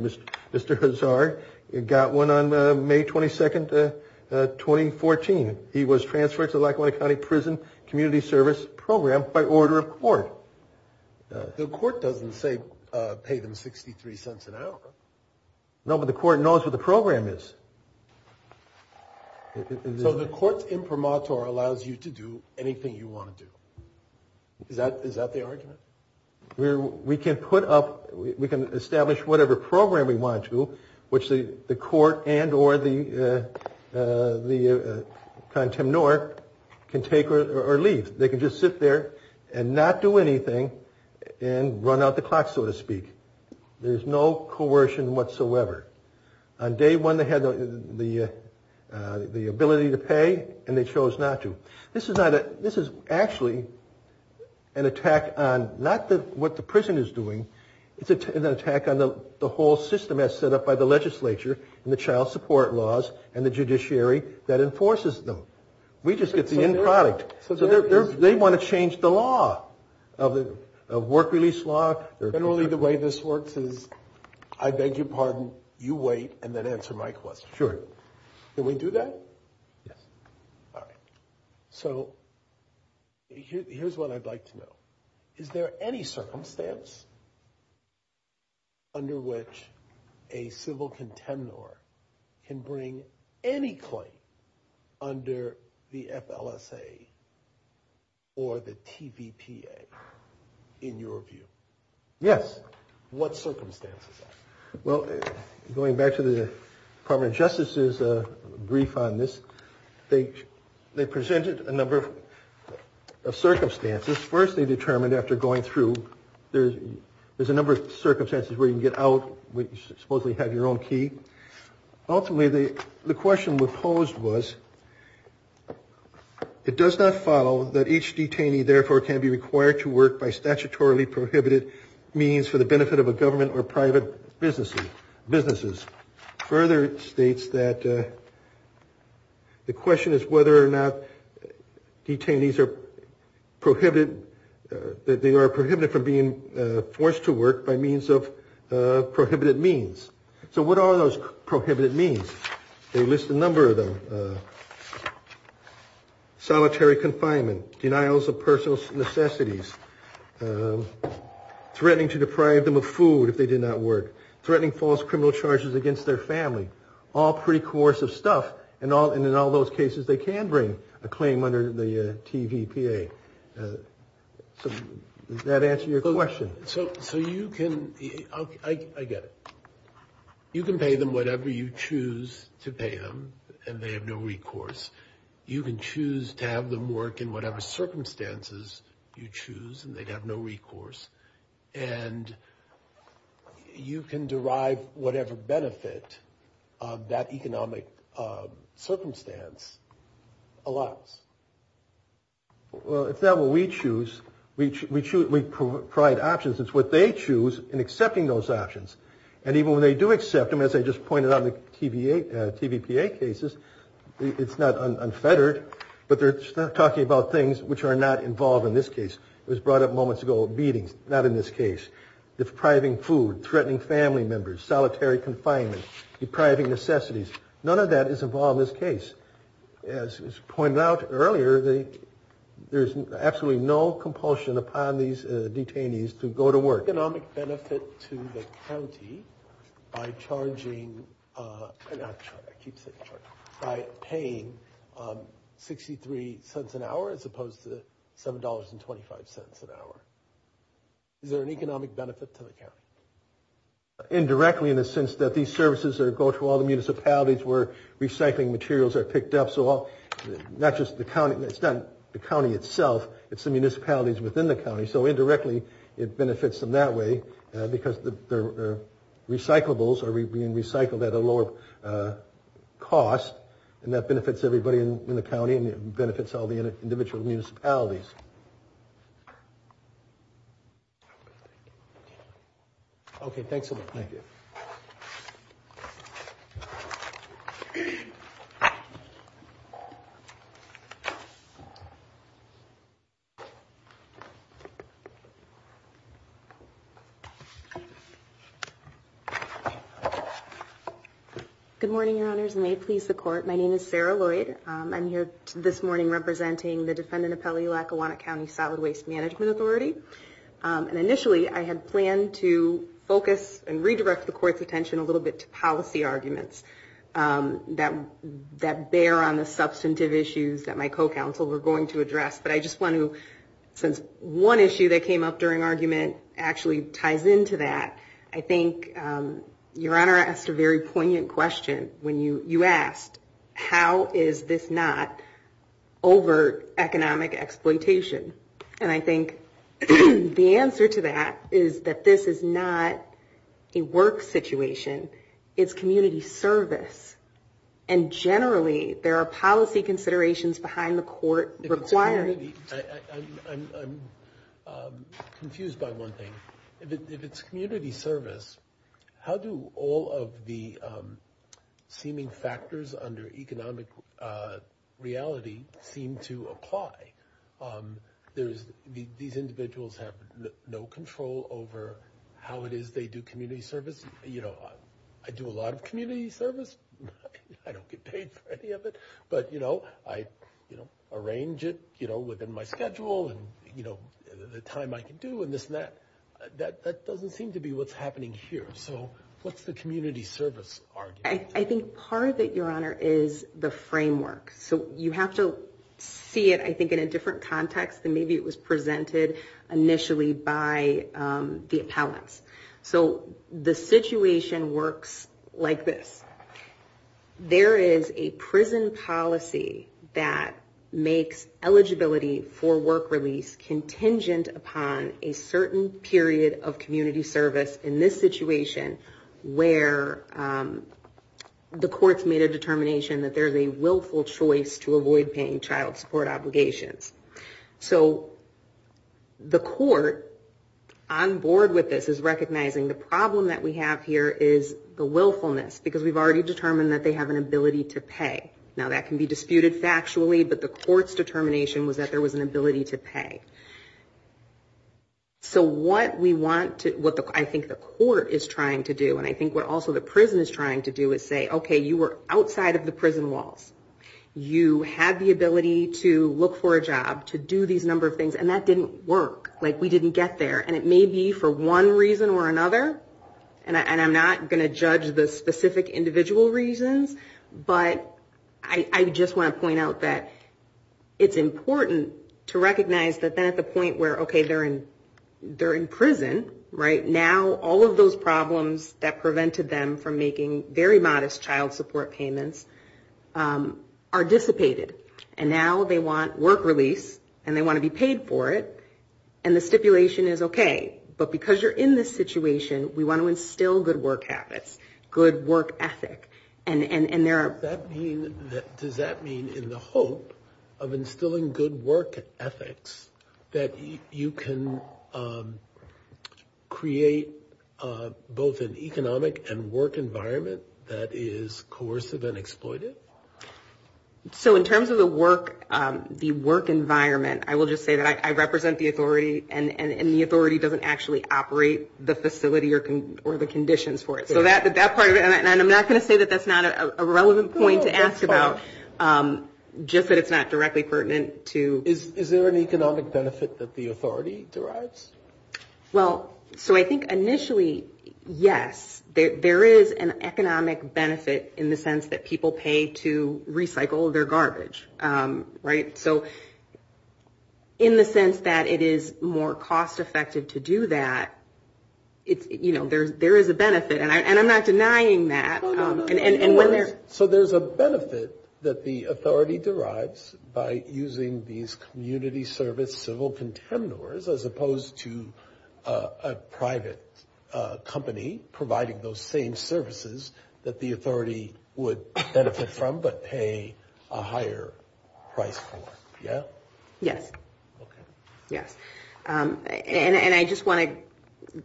Mr. Hazard got one on May 22, 2014. He was transferred to Lackawanna County Prison Community Service Program by order of court. The court doesn't say pay them 63 cents an hour. No, but the court knows what the program is. So the court's imprimatur allows you to do anything you want to do. Is that the argument? We can put up, we can establish whatever program we want to, which the court and or the contemnor can take or leave. They can just sit there and not do anything and run out the clock, so to speak. There's no coercion whatsoever. On day one they had the ability to pay and they chose not to. This is actually an attack on not what the prison is doing. It's an attack on the whole system as set up by the legislature and the child support laws and the judiciary that enforces them. We just get the end product. They want to change the law, the work release law. Generally the way this works is I beg your pardon, you wait, and then answer my question. Sure. Can we do that? Yes. All right. So here's what I'd like to know. Is there any circumstance under which a civil contemnor can bring any claim under the FLSA or the TVPA in your view? Yes. What circumstances? Well, going back to the Department of Justice's brief on this, they presented a number of circumstances. First they determined after going through, there's a number of circumstances where you can get out, where you supposedly have your own key. Ultimately the question proposed was, it does not follow that each detainee therefore can be required to work by statutorily prohibited means for the benefit of a government or private businesses. Further it states that the question is whether or not detainees are prohibited from being forced to work by means of prohibited means. So what are those prohibited means? They list a number of them. Solitary confinement, denials of personal necessities, threatening to deprive them of food if they do not work, threatening false criminal charges against their family, all pretty coercive stuff. And in all those cases they can bring a claim under the TVPA. Does that answer your question? So you can, I get it. You can pay them whatever you choose to pay them and they have no recourse. You can choose to have them work in whatever circumstances you choose and they have no recourse. And you can derive whatever benefit of that economic circumstance a lot. Well, it's not what we choose. We provide options. It's what they choose in accepting those options. And even when they do accept them, as I just pointed out in TVPA cases, it's not unfettered. But they're talking about things which are not involved in this case. It was brought up moments ago, beating, not in this case. Depriving food, threatening family members, solitary confinement, depriving necessities. None of that is involved in this case. As was pointed out earlier, there's absolutely no compulsion upon these detainees to go to work. Is there an economic benefit to the county by paying 63 cents an hour as opposed to $7.25 an hour? Is there an economic benefit to the county? Indirectly in the sense that these services go to all the municipalities where recycling materials are picked up. So not just the county, it's not the county itself. It's the municipalities within the county. So indirectly, it benefits them that way because the recyclables are being recycled at a lower cost. And that benefits everybody in the county and it benefits all the individual municipalities. Next slide, please. Okay, thanks a lot. Thank you. Good morning, Your Honors. May it please the Court, my name is Sarah Lloyd. I'm here this morning representing the defendant appellee, Lackawanna County Solid Waste Management Authority. And initially, I had planned to focus and redirect the Court's attention a little bit to policy arguments that bear on the substantive issues that my co-counsel were going to address. But I just want to, since one issue that came up during argument actually ties into that, I think Your Honor asked a very poignant question when you asked, how is this not overt economic exploitation? And I think the answer to that is that this is not a work situation. It's community service. And generally, there are policy considerations behind the Court requiring. I'm confused by one thing. If it's community service, how do all of the seeming factors under economic reality seem to apply? These individuals have no control over how it is they do community service. You know, I do a lot of community service. I don't get paid for any of it. But, you know, I arrange it, you know, within my schedule and, you know, the time I can do and this and that. That doesn't seem to be what's happening here. So what's the community service argument? I think part of it, Your Honor, is the framework. So you have to see it, I think, in a different context than maybe it was presented initially by the appellants. So the situation works like this. There is a prison policy that makes eligibility for work release contingent upon a certain period of community service in this situation where the Court's made a determination that there's a willful choice to avoid paying child support obligations. So the Court, on board with this, is recognizing the problem that we have here is the willfulness because we've already determined that they have an ability to pay. Now, that can be disputed factually, but the Court's determination was that there was an ability to pay. So what I think the Court is trying to do, and I think what also the prison is trying to do, is say, okay, you were outside of the prison walls. You have the ability to look for a job, to do these number of things, and that didn't work. Like, we didn't get there. And it may be for one reason or another, and I'm not going to judge the specific individual reasons, but I just want to point out that it's important to recognize that that's a point where, okay, they're in prison, right? Now all of those problems that prevented them from making very modest child support payments are dissipated. And now they want work release and they want to be paid for it, and the stipulation is okay. But because you're in this situation, we want to instill good work habits, good work ethics. Does that mean in the hope of instilling good work ethics that you can create both an economic and work environment that is coercive and exploited? So in terms of the work environment, I will just say that I represent the authority and the authority doesn't actually operate the facility or the conditions for it. So that part of it, and I'm not going to say that that's not a relevant point to ask about, just that it's not directly pertinent to. Is there an economic benefit that the authority derives? Well, so I think initially, yes. There is an economic benefit in the sense that people pay to recycle their garbage, right? So in the sense that it is more cost effective to do that, you know, there is a benefit. And I'm not denying that. So there's a benefit that the authority derives by using these community service as opposed to a private company providing those same services that the authority would benefit from but pay a higher price for, yeah? Yes. And I just want to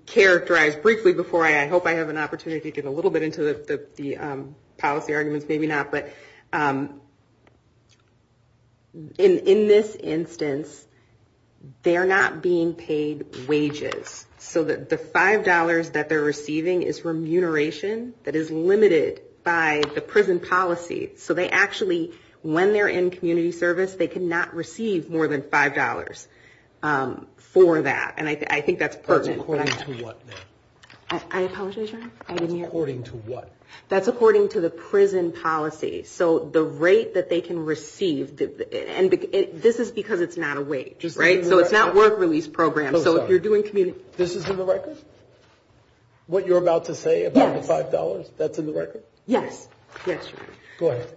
characterize briefly before I hope I have an opportunity to get a little bit into the policy arguments, maybe not. But in this instance, they're not being paid wages. So the $5 that they're receiving is remuneration that is limited by the prison policy. So they actually, when they're in community service, they cannot receive more than $5 for that. And I think that's pertinent. That's according to what? I apologize, John. I didn't hear. That's according to what? That's according to the prison policy. So the rate that they can receive, and this is because it's not a wage, right? So it's not a work release program. So if you're doing community service. This is in the record? What you're about to say about the $5, that's in the record? Yes. Yes, ma'am. Go ahead.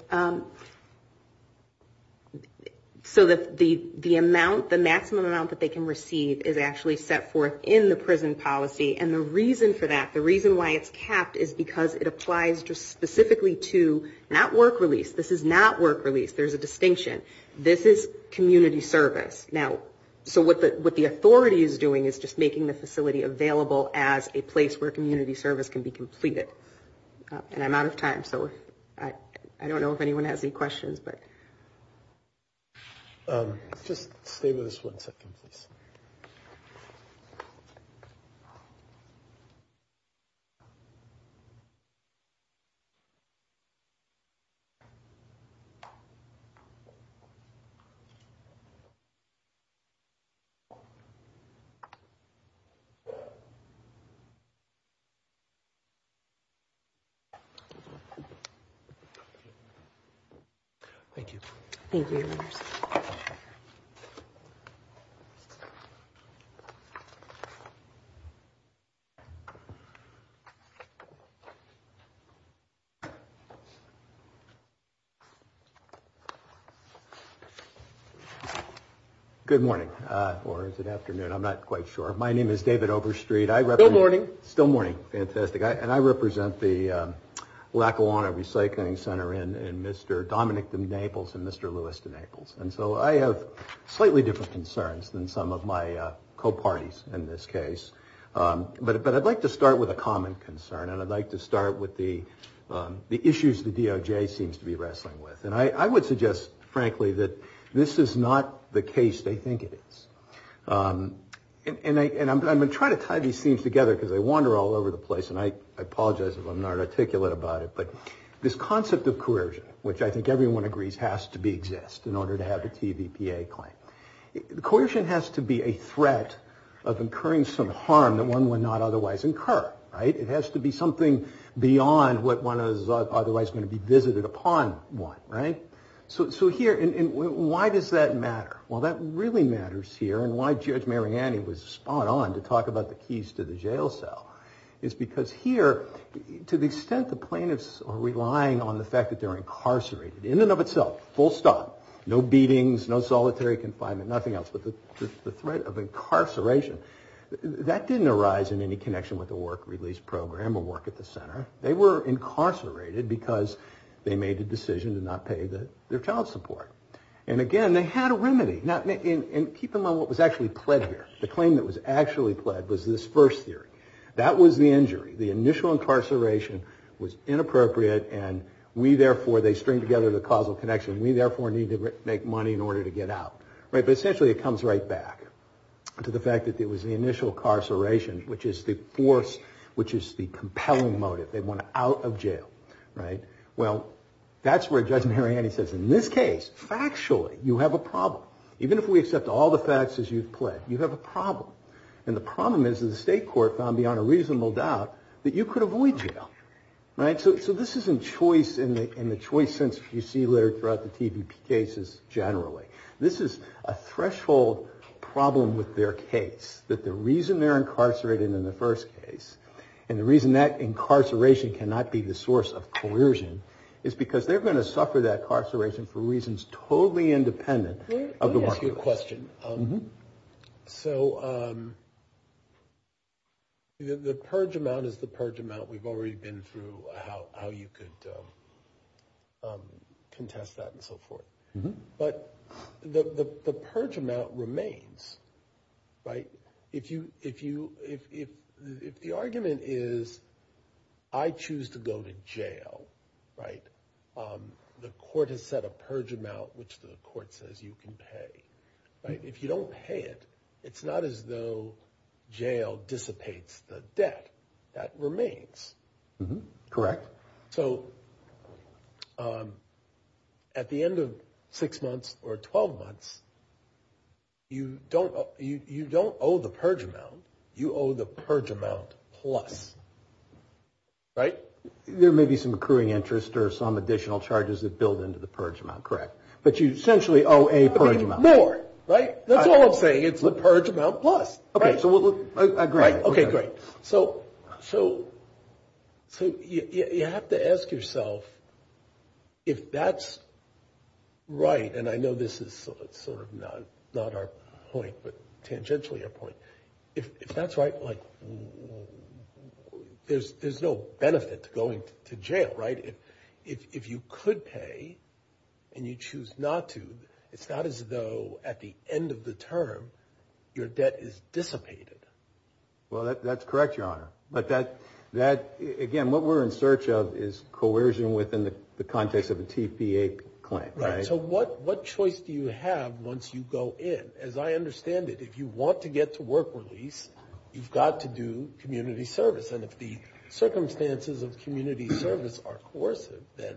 So the amount, the maximum amount that they can receive is actually set forth in the prison policy. And the reason for that, the reason why it's capped is because it applies just specifically to not work release. This is not work release. There's a distinction. This is community service. Now, so what the authority is doing is just making the facility available as a place where community service can be completed. And I'm out of time. So I don't know if anyone has any questions. Just favor this one. Thank you. Good morning. Or is it afternoon? I'm not quite sure. My name is David Overstreet. Good morning. Still morning. Fantastic. And I represent the Lackawanna Recycling Center in Mr. Dominick and Naples and Mr. Lewis and Naples. And so I have slightly different concerns than some of my co-parties in this case. But I'd like to start with a common concern, and I'd like to start with the issues the DOJ seems to be wrestling with. And I would suggest, frankly, that this is not the case they think it is. And I'm going to try to tie these things together because they wander all over the place, and I apologize if I'm not articulate about it. But this concept of coercion, which I think everyone agrees has to exist in order to have a TVPA claim. Coercion has to be a threat of incurring some harm that one would not otherwise incur, right? It has to be something beyond what one is otherwise going to be visited upon, right? So here, why does that matter? Well, that really matters here, and why Judge Mariani was spot on to talk about the keys to the jail cell, is because here, to the extent the plaintiffs are relying on the fact that they're incarcerated, in and of itself, full stop, no beatings, no solitary confinement, nothing else but just the threat of incarceration, that didn't arise in any connection with the work release program or work at the center. They were incarcerated because they made the decision to not pay their child support. And again, they had a remedy. And keep in mind what was actually pled here. The claim that was actually pled was this first theory. That was the injury. The initial incarceration was inappropriate, and we, therefore, they string together the causal connection. We, therefore, need to make money in order to get out. But essentially, it comes right back to the fact that it was the initial incarceration, which is the force, which is the compelling motive. They want out of jail, right? Well, that's where Judge Mariani says, in this case, factually, you have a problem. Even if we accept all the facts as you've pled, you have a problem. And the problem is that the state court found beyond a reasonable doubt that you could avoid jail, right? So this isn't choice in the choice sense you see later throughout the TVP cases generally. This is a threshold problem with their case, that the reason they're incarcerated in the first case and the reason that incarceration cannot be the source of coercion is because they're going to suffer that incarceration for reasons totally independent of the market. Let me ask you a question. So the purge amount is the purge amount. We've already been through how you could contest that and so forth. But the purge amount remains, right? If the argument is I choose to go to jail, right, the court has set a purge amount, which the court says you can pay, right? If you don't pay it, it's not as though jail dissipates the debt. That remains. Correct. So at the end of six months or 12 months, you don't owe the purge amount. You owe the purge amount plus, right? There may be some accruing interest or some additional charges that build into the purge amount, correct. But you essentially owe a purge amount. More, right? That's all I'm saying. It's the purge amount plus, right? I agree. Okay, great. So you have to ask yourself if that's right, and I know this is sort of not our point, but tangentially our point. If that's right, like there's no benefit to going to jail, right? If you could pay and you choose not to, it's not as though at the end of the term your debt is dissipated. Well, that's correct, Your Honor. But that, again, what we're in search of is coercion within the context of a TCA claim, right? Right. So what choice do you have once you go in? As I understand it, if you want to get to work release, you've got to do community service. And if the circumstances of community service are coercive, then?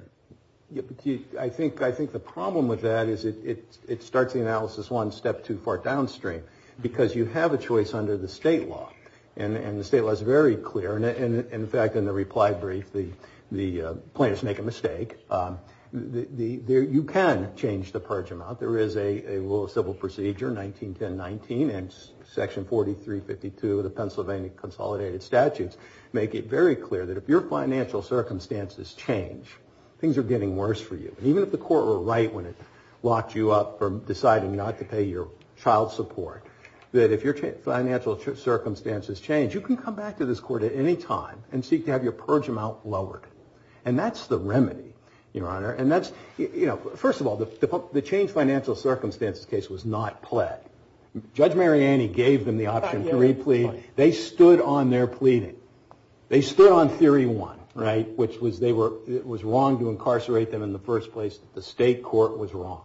I think the problem with that is it starts in analysis one, step two, far downstream. Because you have a choice under the state law, and the state law is very clear. And, in fact, in the reply brief, the plaintiffs make a mistake. You can change the purge amount. There is a rule of civil procedure, 191019, and Section 4352 of the Pennsylvania Consolidated Statutes make it very clear that if your financial circumstances change, things are getting worse for you. Even if the court were right when it locked you up for deciding, you know, I could pay your child support, that if your financial circumstances change, you can come back to this court at any time and seek to have your purge amount lowered. And that's the remedy, Your Honor. And that's, you know, first of all, the change financial circumstances case was not pled. Judge Mariani gave them the option to re-plead. They stood on their pleading. They stood on theory one, right, which was it was wrong to incarcerate them in the first place. The state court was wrong.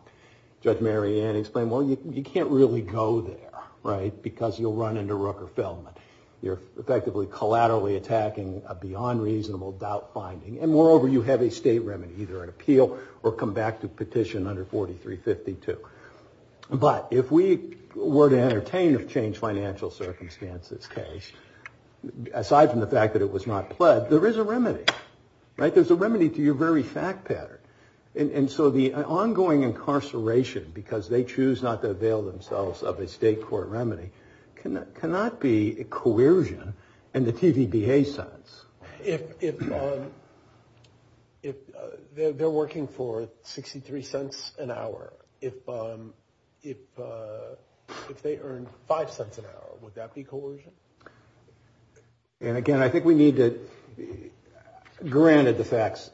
Judge Mariani explained, well, you can't really go there, right, because you'll run into Rook or Feldman. They're effectively collaterally attacking a beyond reasonable doubt finding. And, moreover, you have a state remedy, either an appeal or come back to petition under 4352. But if we were to entertain a change financial circumstances case, aside from the fact that it was not pled, there is a remedy, right? There's a remedy to your very fact pattern. And so the ongoing incarceration, because they choose not to avail themselves of a state court remedy, cannot be coercion in the TVDA sense. If they're working for 63 cents an hour, if they earn five cents an hour, would that be coercion? And, again, I think we need to be granted the facts,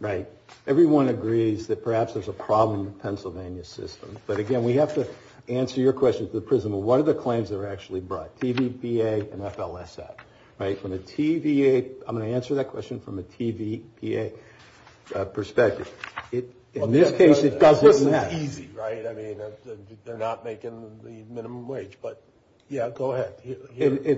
right? Everyone agrees that perhaps there's a problem with Pennsylvania's system. But, again, we have to answer your question to the prism of what are the claims that are actually brought, TVDA and FLSF, right? I'm going to answer that question from a TVPA perspective. In this case, it doesn't matter. It's easy, right? I mean, they're not making the minimum wage. But, yeah, go ahead.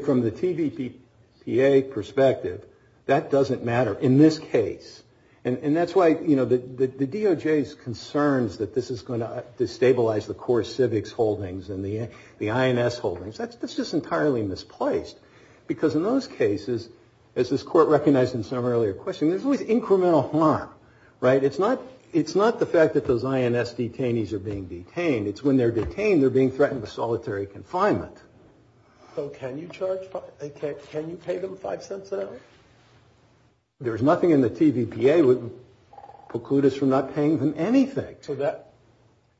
From the TVPA perspective, that doesn't matter in this case. And that's why the DOJ's concerns that this is going to destabilize the core civics holdings and the INS holdings, that's just entirely misplaced. Because in those cases, as this court recognized in some earlier questions, there's always incremental harm, right? It's not the fact that those INS detainees are being detained. It's when they're detained, they're being threatened with solitary confinement. So can you charge, can you pay them five cents an hour? There's nothing in the TVPA that precludes from not paying them anything.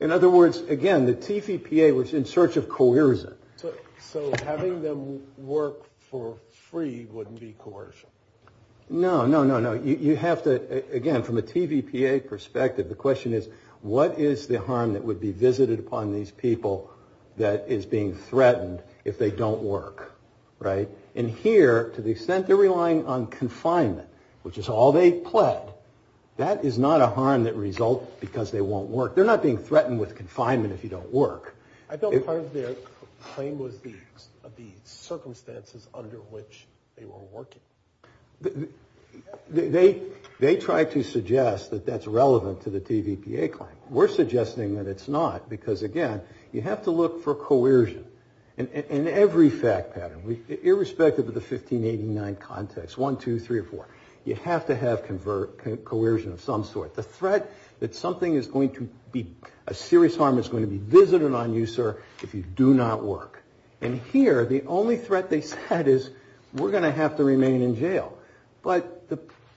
In other words, again, the TVPA was in search of coercion. So having them work for free wouldn't be coercion? No, no, no, no. You have to, again, from a TVPA perspective, the question is what is the harm that would be visited upon these people that is being threatened if they don't work, right? And here, to the extent they're relying on confinement, which is all they've pled, that is not a harm that results because they won't work. They're not being threatened with confinement if you don't work. I thought part of their claim was the circumstances under which they were working. They tried to suggest that that's relevant to the TVPA claim. We're suggesting that it's not because, again, you have to look for coercion in every fact pattern, irrespective of the 1589 context, one, two, three, or four. You have to have coercion of some sort. The threat that something is going to be, a serious harm is going to be visited on you, sir, if you do not work. And here, the only threat they had is we're going to have to remain in jail. But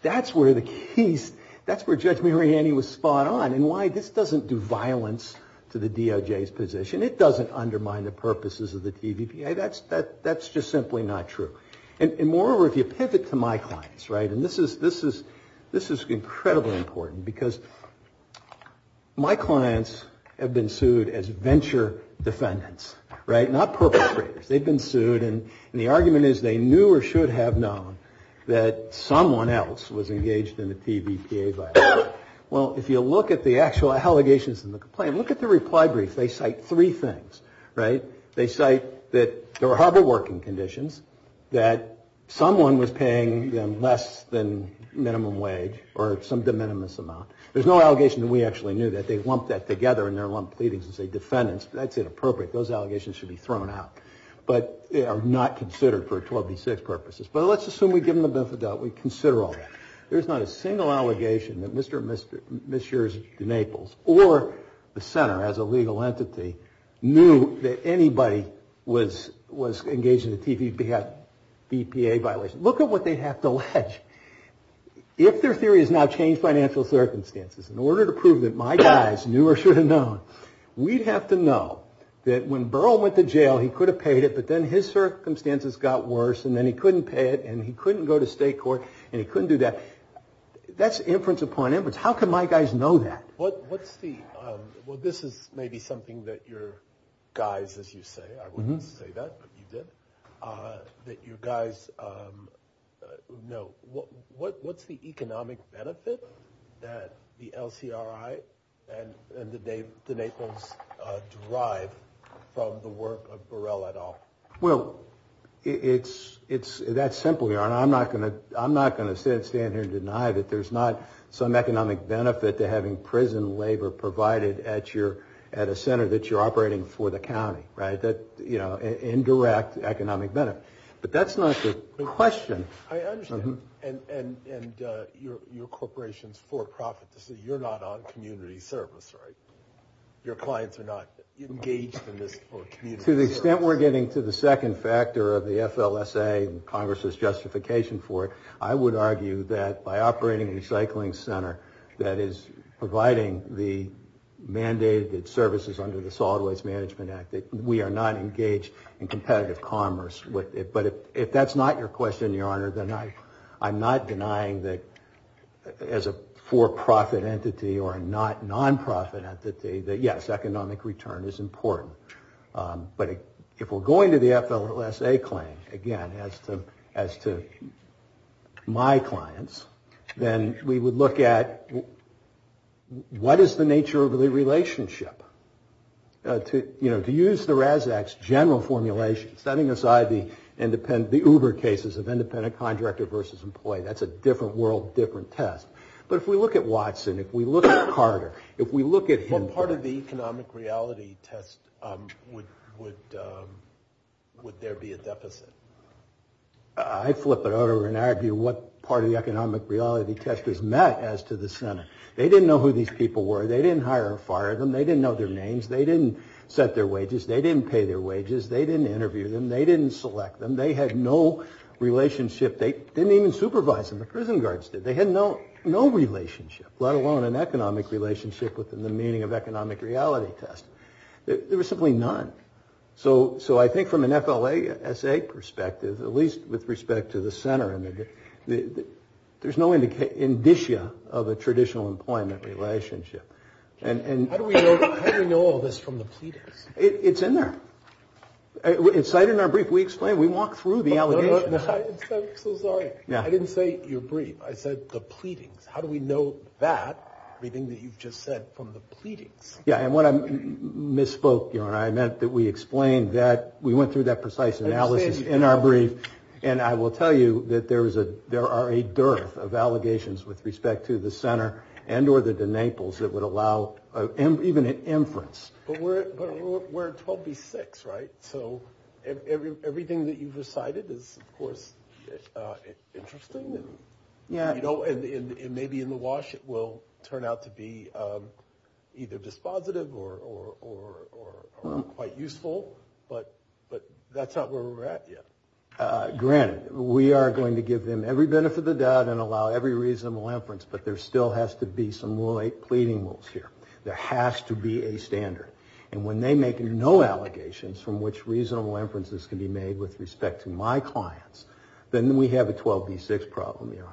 that's where the keys, that's where Judge Mariani was spot on and why this doesn't do violence to the DOJ's position. It doesn't undermine the purposes of the TVPA. That's just simply not true. And moreover, if you pivot to my clients, right, and this is incredibly important because my clients have been sued as venture defendants, right, not perpetrators. They've been sued and the argument is they knew or should have known that someone else was engaged in a TVPA violation. Well, if you look at the actual allegations in the complaint, look at the reply brief. They cite three things, right? They cite that there were horrible working conditions, that someone was paying them less than minimum wage or some de minimis amount. There's no allegation that we actually knew that. They lumped that together in their lump pleadings and say defendants, that's inappropriate. Those allegations should be thrown out. But they are not considered for 12 and 6 purposes. But let's assume we give them the benefit of the doubt. We consider all that. There's not a single allegation that Mr. and Mrs. DeNaples or the center as a legal entity knew that anybody was engaged in a TVPA violation. Look at what they have to allege. If their theory has not changed financial circumstances, in order to prove that my clients knew or should have known, we'd have to know that when Burl went to jail he could have paid it but then his circumstances got worse and then he couldn't pay it and he couldn't go to state court and he couldn't do that. That's inference upon inference. How could my guys know that? Well, this is maybe something that your guys, as you say, I wouldn't say that, but you did, that you guys know. What's the economic benefit that the LCRI and DeNaples derive from the work of Burl et al.? Well, that's simple, Your Honor. I'm not going to stand here and deny that there's not some economic benefit to having prison labor provided at a center that you're operating for the county, in due economic benefit. But that's not the question. I understand. And your corporation's for-profit, so you're not on community service, right? Your clients are not engaged in this community service. To the extent we're getting to the second factor of the FLSA and Congress's justification for it, I would argue that by operating a recycling center that is providing the mandated services under the Solid Waste Management Act, that we are not engaged in competitive commerce with it. But if that's not your question, Your Honor, then I'm not denying that as a for-profit entity or a not-nonprofit entity that, yes, economic return is important. But if we're going to the FLSA claim, again, as to my clients, then we would look at what is the nature of the relationship? To use the RAS Act's general formulation, setting aside the Uber cases of independent contractor versus employee, that's a different world, different test. But if we look at Watson, if we look at Carter, if we look at... Part of the economic reality test, would there be a deficit? I flip it over and argue what part of the economic reality test is met as to the Senate. They didn't know who these people were. They didn't hire or fire them. They didn't know their names. They didn't set their wages. They didn't pay their wages. They didn't interview them. They didn't select them. They had no relationship. They didn't even supervise them. The prison guards did. They had no relationship, let alone an economic relationship within the meaning of economic reality test. There was simply none. So I think from an FLSA perspective, at least with respect to the Senate, there's no indicia of a traditional employment relationship. How do we know all this from the tweet? It's in there. It's right in our brief. We explained. We walked through the allegations. I'm so sorry. I didn't say your brief. I said the pleading. How do we know that, everything that you've just said, from the pleading? Yeah, and what I misspoke, you know, and I meant that we explained that. We went through that precise analysis in our brief. And I will tell you that there are a dearth of allegations with respect to the Senate and or the Naples that would allow even an inference. But we're 12B6, right? So everything that you've recited is, of course, interesting, and maybe in the wash it will turn out to be either dispositive or quite useful. But that's not where we're at yet. Granted, we are going to give them every benefit of the doubt and allow every reasonable inference, but there still has to be some pleading rules here. There has to be a standard. And when they make no allegations from which reasonable inferences can be made with respect to my clients, then we have a 12B6 problem here.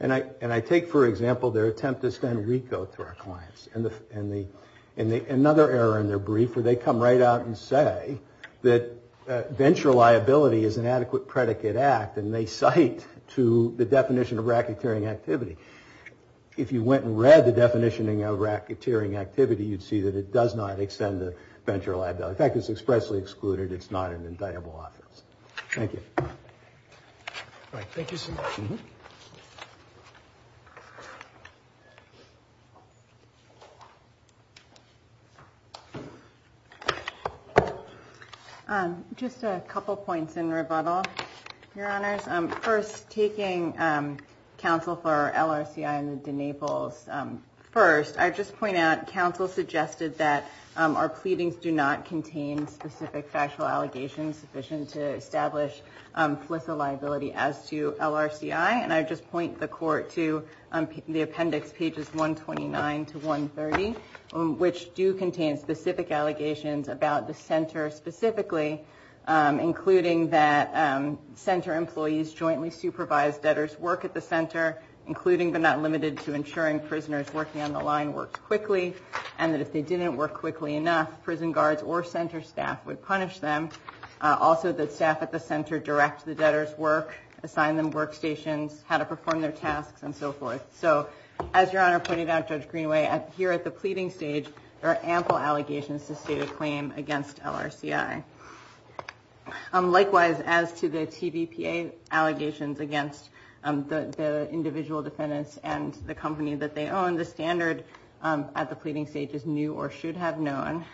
And I take, for example, their attempt to send a recode to our clients. And another error in their brief where they come right out and say that venture liability is an adequate predicate act, and they cite to the definition of racketeering activity. If you went and read the definition of racketeering activity, you'd see that it does not extend the venture liability. In fact, it's expressly excluded. It's not an indictable offense. Thank you. Thank you, sir. Just a couple points in rebuttal, Your Honors. First, taking counsel for LRCI and the Naples first, I'd just point out counsel suggested that our pleadings do not contain specific factual allegations sufficient to establish solicit liability as to LRCI. And I'd just point the court to the appendix pages 129 to 130, which do contain specific allegations about the center specifically, including that center employees jointly supervise debtors' work at the center, including but not limited to ensuring prisoners working on the line work quickly, and that if they didn't work quickly enough, prison guards or center staff would punish them. Also, the staff at the center directs the debtors' work, assign them workstations, how to perform their tasks, and so forth. So as Your Honor pointed out, Judge Greenway, here at the pleading stage, there are ample allegations to state a claim against LRCI. Likewise, as to the PDPA allegations against the individual defendants and the company that they own, the standard at the pleading stage is new or should have known.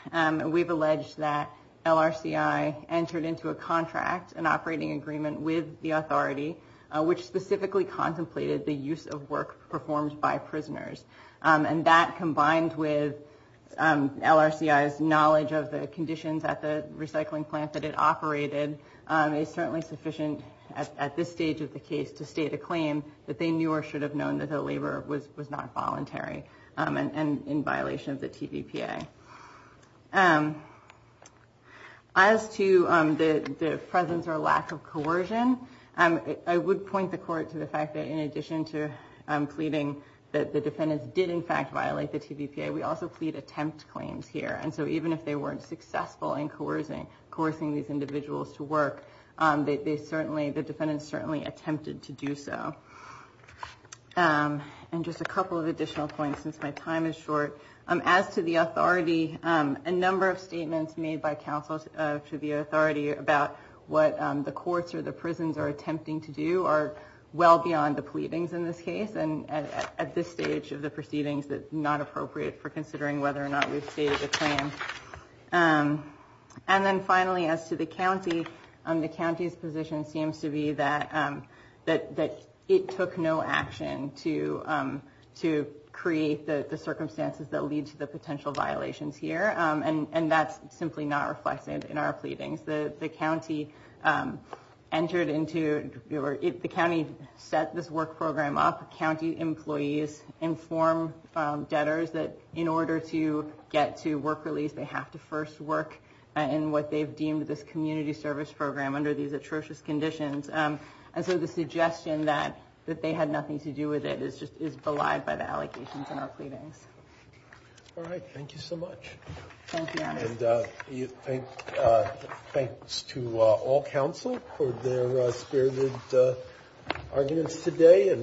We've alleged that LRCI entered into a contract, an operating agreement with the authority, which specifically contemplated the use of work performed by prisoners. And that combined with LRCI's knowledge of the conditions at the recycling plant that it operated is certainly sufficient at this stage of the case to state a claim that they knew or should have known that their labor was not voluntary and in violation of the PDPA. As to the presence or lack of coercion, I would point the court to the fact that in addition to pleading that the defendants did in fact violate the PDPA, we also plead attempt claims here. And so even if they weren't successful in coercing these individuals to work, the defendants certainly attempted to do so. And just a couple of additional points since my time is short. As to the authority, a number of statements made by counsel to the authority about what the courts or the prisons are attempting to do are well beyond the pleadings in this case. And at this stage of the proceedings, it's not appropriate for considering whether or not we state a claim. And then finally, as to the county, the county's position seems to be that it took no action to create the circumstances that lead to the potential violations here. And that's simply not reflected in our pleadings. The county set this work program up. County employees inform debtors that in order to get to work release, they have to first work in what they've deemed this community service program under these atrocious conditions. And so the suggestion that they had nothing to do with it is belied by the allegations in our pleadings. All right. Thank you so much. Thank you, Andrew. And thanks to all counsel for their serious arguments today.